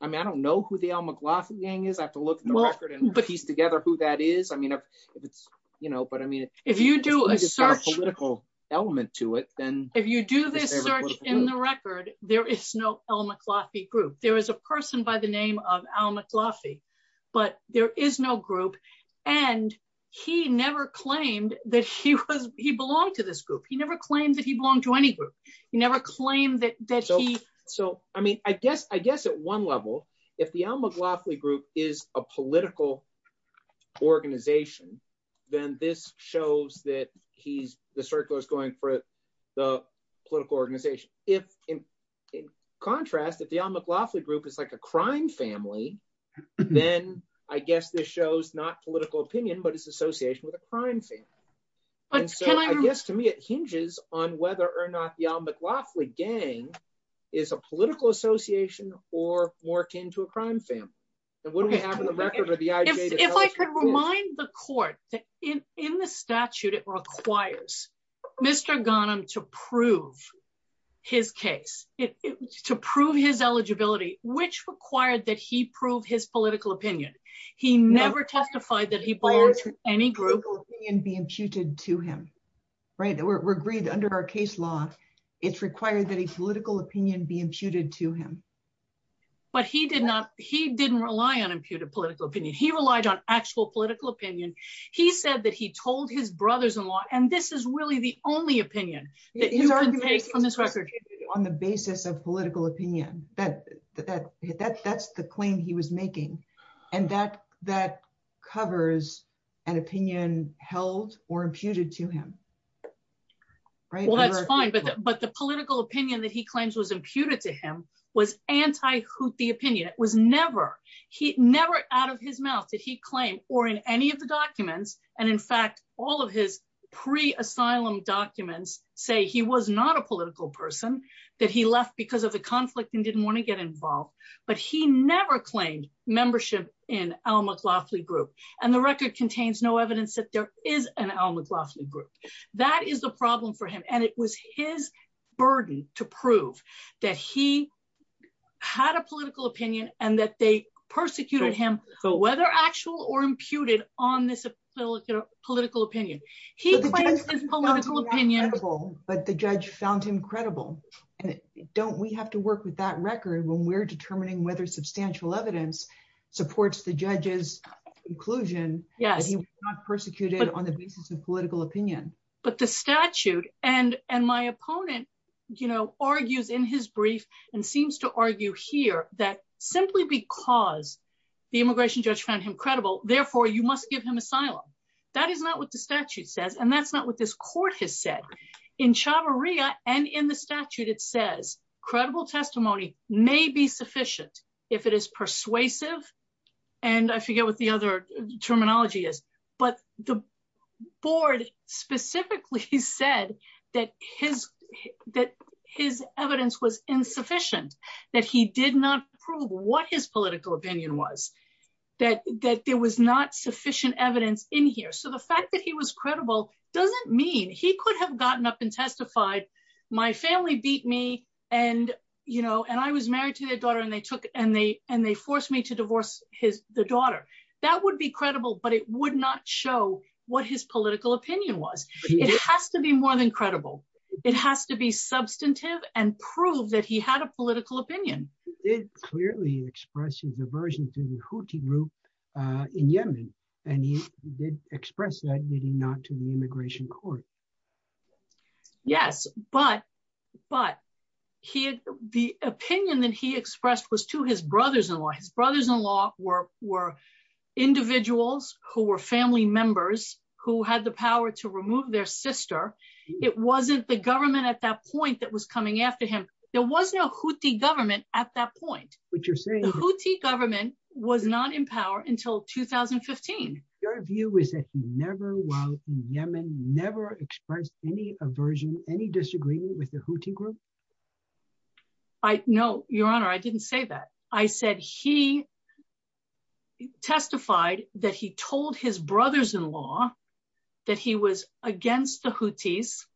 I mean, I don't know who the Al McLaughlin gang is. I have to look at the record and piece together who that is. I mean, if it's, you know, but I mean, if you do a search political element to it, if you do this search in the record, there is no Al McLaughlin group. There is a person by the name of Al McLaughlin, but there is no group. And he never claimed that he was, he belonged to this group. He never claimed that he belonged to any group. He never claimed that. So, I mean, I guess at one level, if the Al McLaughlin group is a political organization, then this shows that the circular is going for the political organization. If in contrast, if the Al McLaughlin group is like a crime family, then I guess this shows not political opinion, but it's association with a crime family. And so I guess to me, it hinges on whether or not the Al McLaughlin gang is a political association or more akin to a crime family. And what do we Mr. Ghanem to prove his case, to prove his eligibility, which required that he proved his political opinion. He never testified that he belongs to any group. It's required that a political opinion be imputed to him. Right. We're agreed under our case law, it's required that a political opinion be imputed to him. But he did not, he didn't rely on imputed political opinion. He relied on actual political opinion. He said that he told his brothers-in-law, and this is really the only opinion that you can take on this record. On the basis of political opinion, that's the claim he was making. And that covers an opinion held or imputed to him. Well, that's fine. But the political opinion that he claims was imputed to him was anti-Houthi opinion. It was never out of his mouth that he claimed or in any of the documents, and in fact, all of his pre-asylum documents say he was not a political person, that he left because of the conflict and didn't want to get involved. But he never claimed membership in Al McLaughlin group. And the record contains no evidence that there is an Al McLaughlin group. That is the problem for him. And it was his burden to prove that he had a political opinion and that they persecuted him, whether actual or imputed on this political opinion. But the judge found him credible. And don't we have to work with that record when we're determining whether substantial evidence supports the judge's conclusion that he was not persecuted on the basis of political opinion? But the statute and my opponent argues in his brief and seems to argue here that simply because the immigration judge found him credible, therefore you must give him asylum. That is not what the statute says. And that's not what this court has said. In Chavarria and in the statute, it says credible testimony may be sufficient if it is persuasive. And I forget what the other terminology is, but the board specifically said that his evidence was insufficient, that he did not prove what his political opinion was, that there was not sufficient evidence in here. So the fact that he was credible doesn't mean he could have gotten up and testified. My family beat me and I was married to their daughter and they forced me to divorce the daughter. That would be credible, but it would not show what his political opinion was. It has to be more than credible. It has to be substantive and prove that he had a political opinion. He clearly expressed his aversion to the Houthi group in Yemen, and he did express that, did he not, to the immigration court? Yes, but the opinion that he expressed was to his brothers-in-law. His brothers-in-law were individuals who were family members who had the power to remove their sister. It wasn't the government at that point that was coming after him. There was no Houthi government at that point. The Houthi government was not in power until 2015. Your view is that he never, while in Yemen, never expressed any aversion, any disagreement with the Houthi group? No, your honor, I didn't say that. I said he testified that he told his brothers-in-law that he was against the Houthis.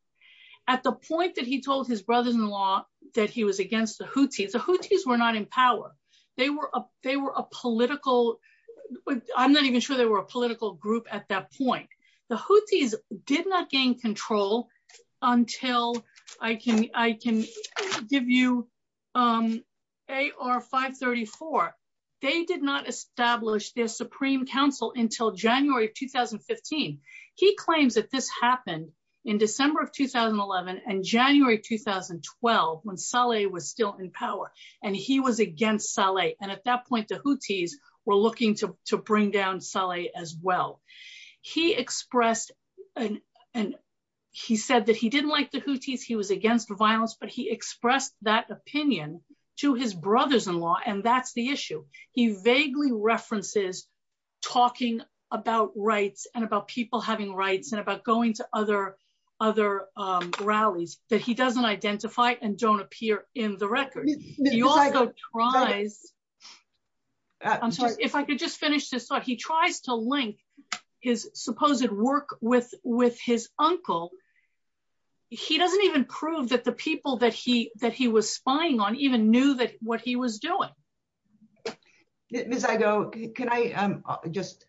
At the point that he told his brothers-in-law that he was against the Houthis, the Houthis were not in power. I'm not even sure they were a political group at that point. The Houthis did not gain control until, I can give you AR-534, they did not establish their supreme council until January of 2015. He claims that this happened in December of 2011 and January 2012 when Saleh was still in power, and he was against Saleh, and at that point the Houthis were looking to bring down Saleh as well. He expressed, and he said that he didn't like the Houthis, he was against the violence, but he expressed that opinion to his brothers-in-law, and that's the issue. He vaguely references talking about rights and about people having rights and about going to other rallies that he doesn't identify and don't appear in the record. He also tries, I'm sorry, if I could just finish this thought, he tries to link his supposed work with his uncle. He doesn't even prove that the people that he was spying on even knew what he was doing. Ms. Igoe, can I just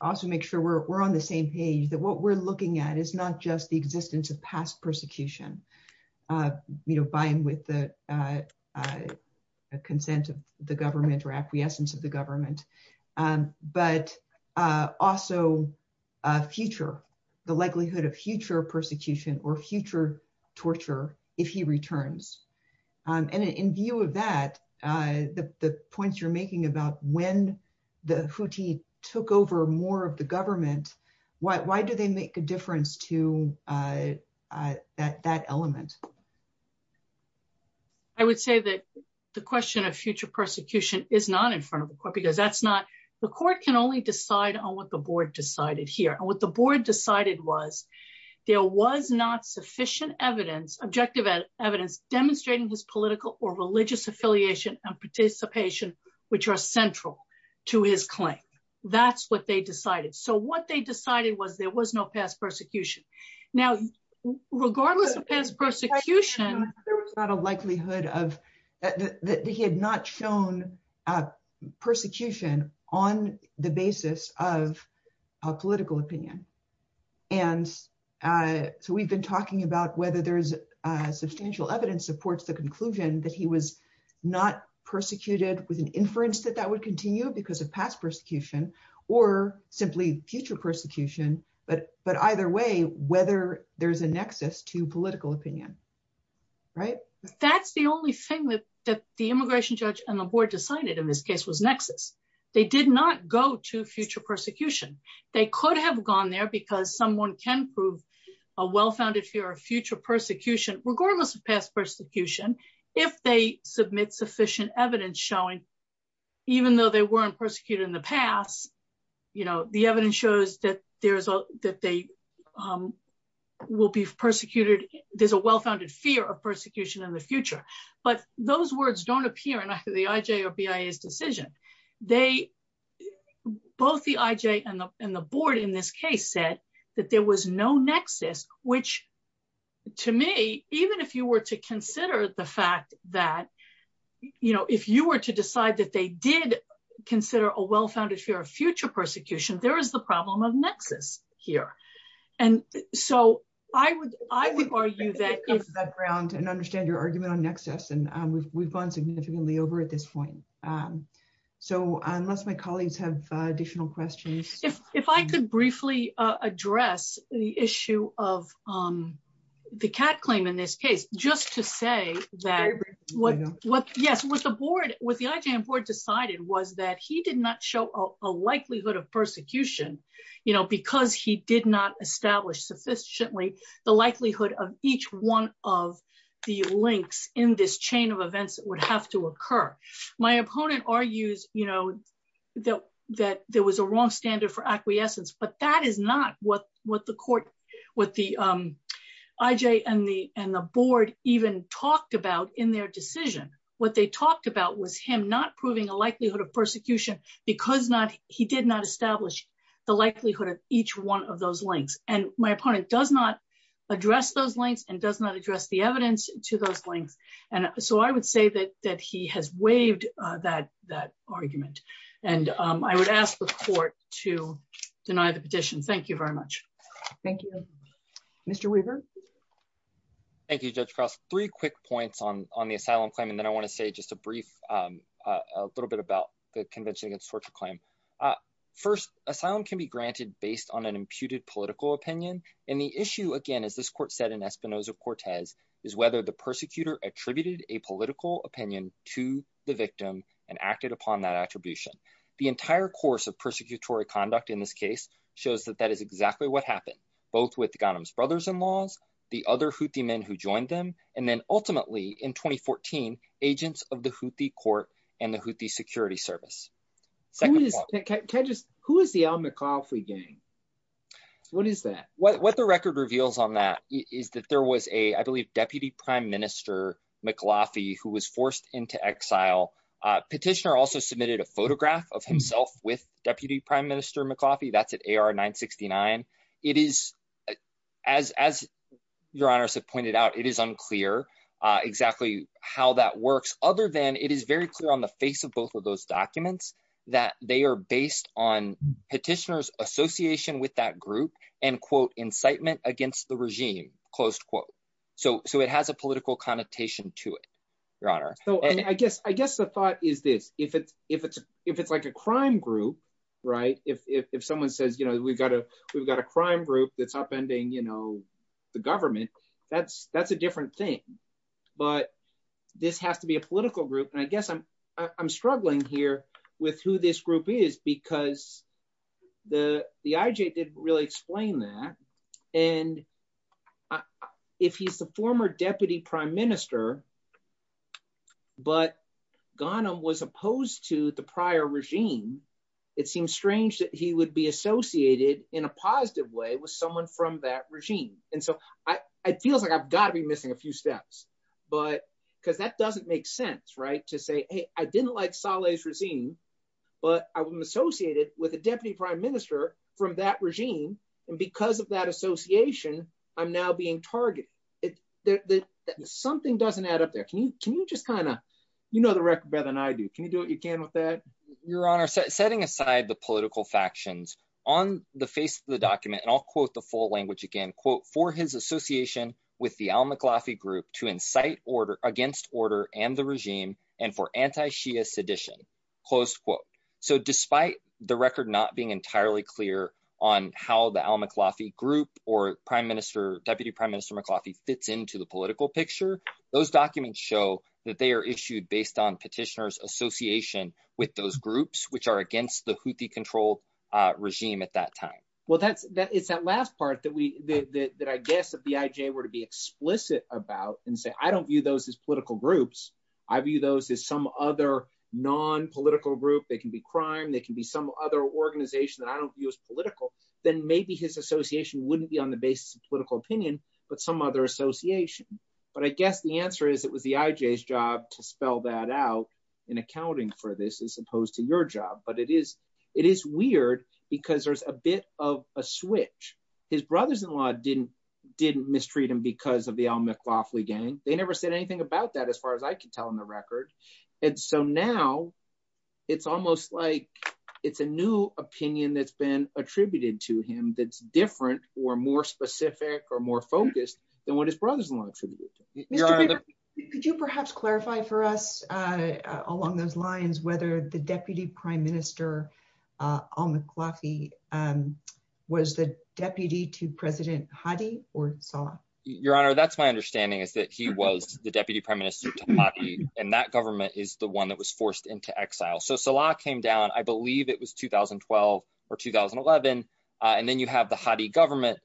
also make sure we're on the same page, that what we're looking at is not just the existence of past persecution, you know, by and with the consent of the government or but also future, the likelihood of future persecution or future torture if he returns, and in view of that, the points you're making about when the Houthi took over more of the government, why do they make a difference to that element? I would say that the question of the court can only decide on what the board decided here, and what the board decided was there was not sufficient evidence, objective evidence, demonstrating his political or religious affiliation and participation which are central to his claim. That's what they decided, so what they decided was there was no past persecution. Now, regardless of past persecution, there was not a likelihood that he had not shown persecution on the basis of a political opinion, and so we've been talking about whether there's substantial evidence supports the conclusion that he was not persecuted with an inference that that would continue because of past persecution or simply future persecution, but either way, whether there's a nexus to political opinion. That's the only thing that the immigration judge and the board decided in this case was nexus. They did not go to future persecution. They could have gone there because someone can prove a well-founded fear of future persecution, regardless of past persecution, if they submit sufficient evidence showing even though they weren't persecuted in the past, the evidence shows that there's a well-founded fear of persecution in the future, but those words don't appear in the IJ or BIA's decision. Both the IJ and the board in this case said that there was no nexus, which to me, even if you were to consider the fact that if you were to decide that they did consider a well-founded fear of future persecution, there is the problem of nexus here, and so I would argue that... I think we've come to that ground and understand your argument on nexus, and we've gone significantly over at this point, so unless my colleagues have additional questions... If I could briefly address the issue of the Cat claim in this case, just to say that what the IJ and board decided was that he did not show a likelihood of persecution because he did not establish sufficiently the likelihood of each one of the links in this chain of events that would have to occur. My opponent argues that there was a wrong standard for acquiescence, but that is not what the court, what the IJ and the board even talked about in their decision. What they talked about was him not proving a likelihood of persecution because he did not establish the likelihood of each one of those links, and my opponent does not address those links and does not address the evidence to those links, and so I would say that he has waived that argument, and I would ask the court to deny the petition. Thank you very much. Thank you. Mr. Weaver? Thank you, Judge Cross. Three quick points on the asylum claim, and then I want to say just a brief, a little bit about the Convention Against Torture claim. First, asylum can be granted based on an imputed political opinion, and the issue, again, as this court said in Espinoza-Cortez, is whether the persecutor attributed a political opinion to the victim and acted upon that attribution. The entire course of persecutory conduct in this case shows that that is exactly what happened, both with Ghanim's brothers-in-law, the other Houthi men who joined them, and then ultimately, in 2014, agents of the Houthi court and the Houthi security service. Who is the Al McLaughley gang? What is that? What the record reveals on that is that there was a, I believe, Deputy Prime Minister McLaughey who was forced into exile. Petitioner also submitted a photograph of himself with Deputy Prime Minister McLaughey. That's at AR 969. It is, as Your Honor has pointed out, it is unclear exactly how that works, other than it is very clear on the face of both of those documents that they are based on petitioner's association with that group and incitement against the regime. So it has a political connotation to it, Your Honor. So I guess the thought is this. If it's like a crime group, if someone says, we've got a crime group that's upending the government, that's a different thing, but this has to be a political group. I guess I'm struggling here with who this group is because the IJ didn't really explain that. If he's the former Deputy Prime Minister, but Ghanem was opposed to the prior regime, it seems strange that he would be associated in a positive way with someone from that regime. And so it feels like I've got to be missing a few steps, but because that doesn't make sense, right, to say, hey, I didn't like Saleh's regime, but I'm associated with a Deputy Prime Minister from that regime, and because of that association, I'm now being targeted. Something doesn't add up there. Can you just kind of, you know the record better than I do. Can you do what you can with that? Your Honor, setting aside the political factions, on the face of the document, and I'll quote the full language again, quote, for his association with the Al-Muklafi group to incite order against order and the regime and for anti-Shia sedition, close quote. So despite the record not being entirely clear on how the Al-Muklafi group or Deputy Prime Minister Muklafi fits into the political picture, those documents show that they are issued based on petitioners' association with those groups, which are against the Houthi-controlled regime at that time. Well, it's that last part that I guess the BIJ were to be explicit about and say, I don't view those as political groups. I view those as some other non-political group. They can be some other organization that I don't view as political. Then maybe his association wouldn't be on the basis of political opinion, but some other association. But I guess the answer is it was the IJ's job to spell that out in accounting for this as opposed to your job. But it is, it is weird because there's a bit of a switch. His brothers-in-law didn't mistreat him because of the Al-Muklafi gang. They never said anything about that as far as I can tell in the record. And so now it's almost like it's a new opinion that's been attributed to him that's different or more specific or more focused than what his brothers-in-law attributed to him. Mr. Baker, could you perhaps clarify for us along those lines whether the Deputy Prime Minister Al-Muklafi was the deputy to President Hadi or Saleh? Your Honor, that's my understanding is that he was the Deputy Prime Minister to Hadi, and that government is the one that was forced into exile. So Saleh came down, I believe it was 2012 or 2011, and then you have the Hadi government,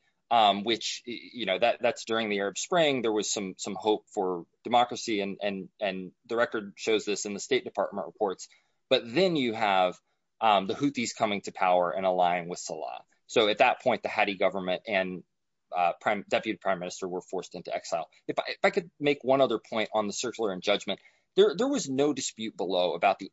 which, you know, that's during the Arab Spring. There was some hope for democracy and the record shows this in the State Department reports. But then you have the Houthis coming to power and aligning with Saleh. So at that point, the Hadi government and Deputy Prime Minister were forced into exile. If I could make one other point on the circular and judgment, there was no dispute below about the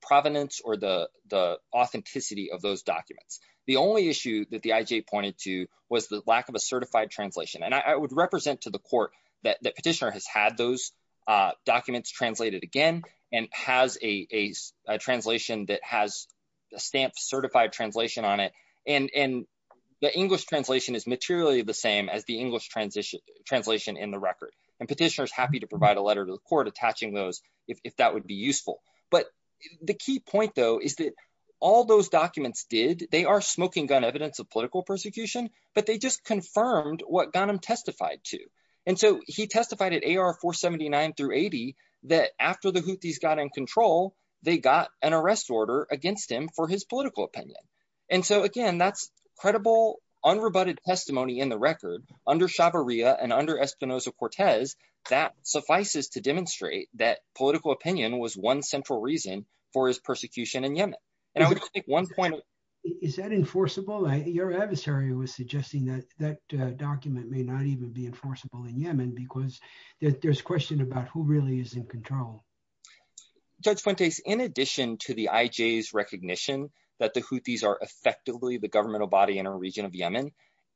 provenance or the authenticity of those documents. The only issue that the IJ pointed to was the lack of a certified translation. And I would represent to the court that Petitioner has had those documents translated again and has a translation that has a stamp certified translation on it. And the English translation is materially the same as the English translation in the record. And Petitioner's happy to provide a letter to the court attaching those if that would be useful. But the key point, though, is that all those documents did, they are smoking gun evidence of political persecution, but they just confirmed what Ghanim testified to. And so he testified at AR 479 through 80, that after the Houthis got in control, they got an arrest order against him for his political opinion. And so again, that's credible, unrebutted testimony in the record under Shabariya and under Espinosa-Cortez, that suffices to demonstrate that political opinion was one central reason for his persecution in Yemen. And I would just make one point. Is that enforceable? Your adversary was suggesting that that document may not even be enforceable in Yemen, because there's question about who really is in control. Judge Fuentes, in addition to the IJ's recognition that the Houthis are effectively the governmental body in a region of Yemen,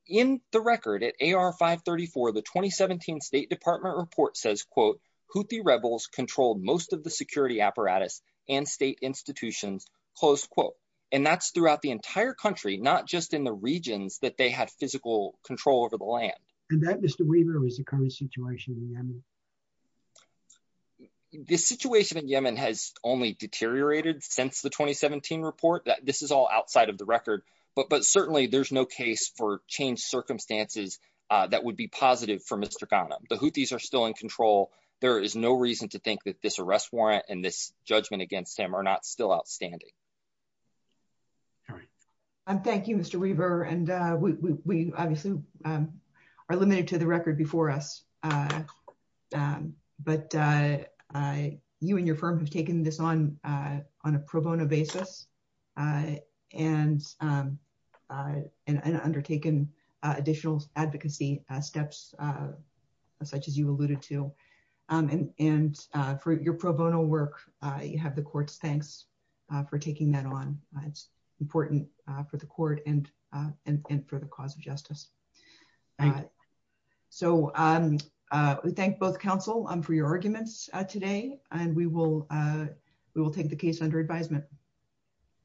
in the record at AR 534, the 2017 State Department report says, quote, Houthi rebels controlled most of the security apparatus and state institutions, close quote. And that's throughout the entire country, not just in the regions that they had physical control over the land. And that, Mr. Weaver, was the current situation in Yemen. The situation in Yemen has only deteriorated since the 2017 report. This is all outside of the record. But certainly, there's no case for changed circumstances that would be positive for Mr. Ghanem. The Houthis are still in control. There is no reason to think that this arrest warrant and this judgment against him are not still outstanding. All right. Thank you, Mr. Weaver. And we obviously are limited to the record before us. But you and your firm have taken this on a pro bono basis and undertaken additional advocacy steps, such as you alluded to. And for your pro bono work, you have the court's thanks for taking that on. It's important for the court and for the cause of justice. Thank you. So we thank both counsel for your arguments today. And we will take the case under advisement.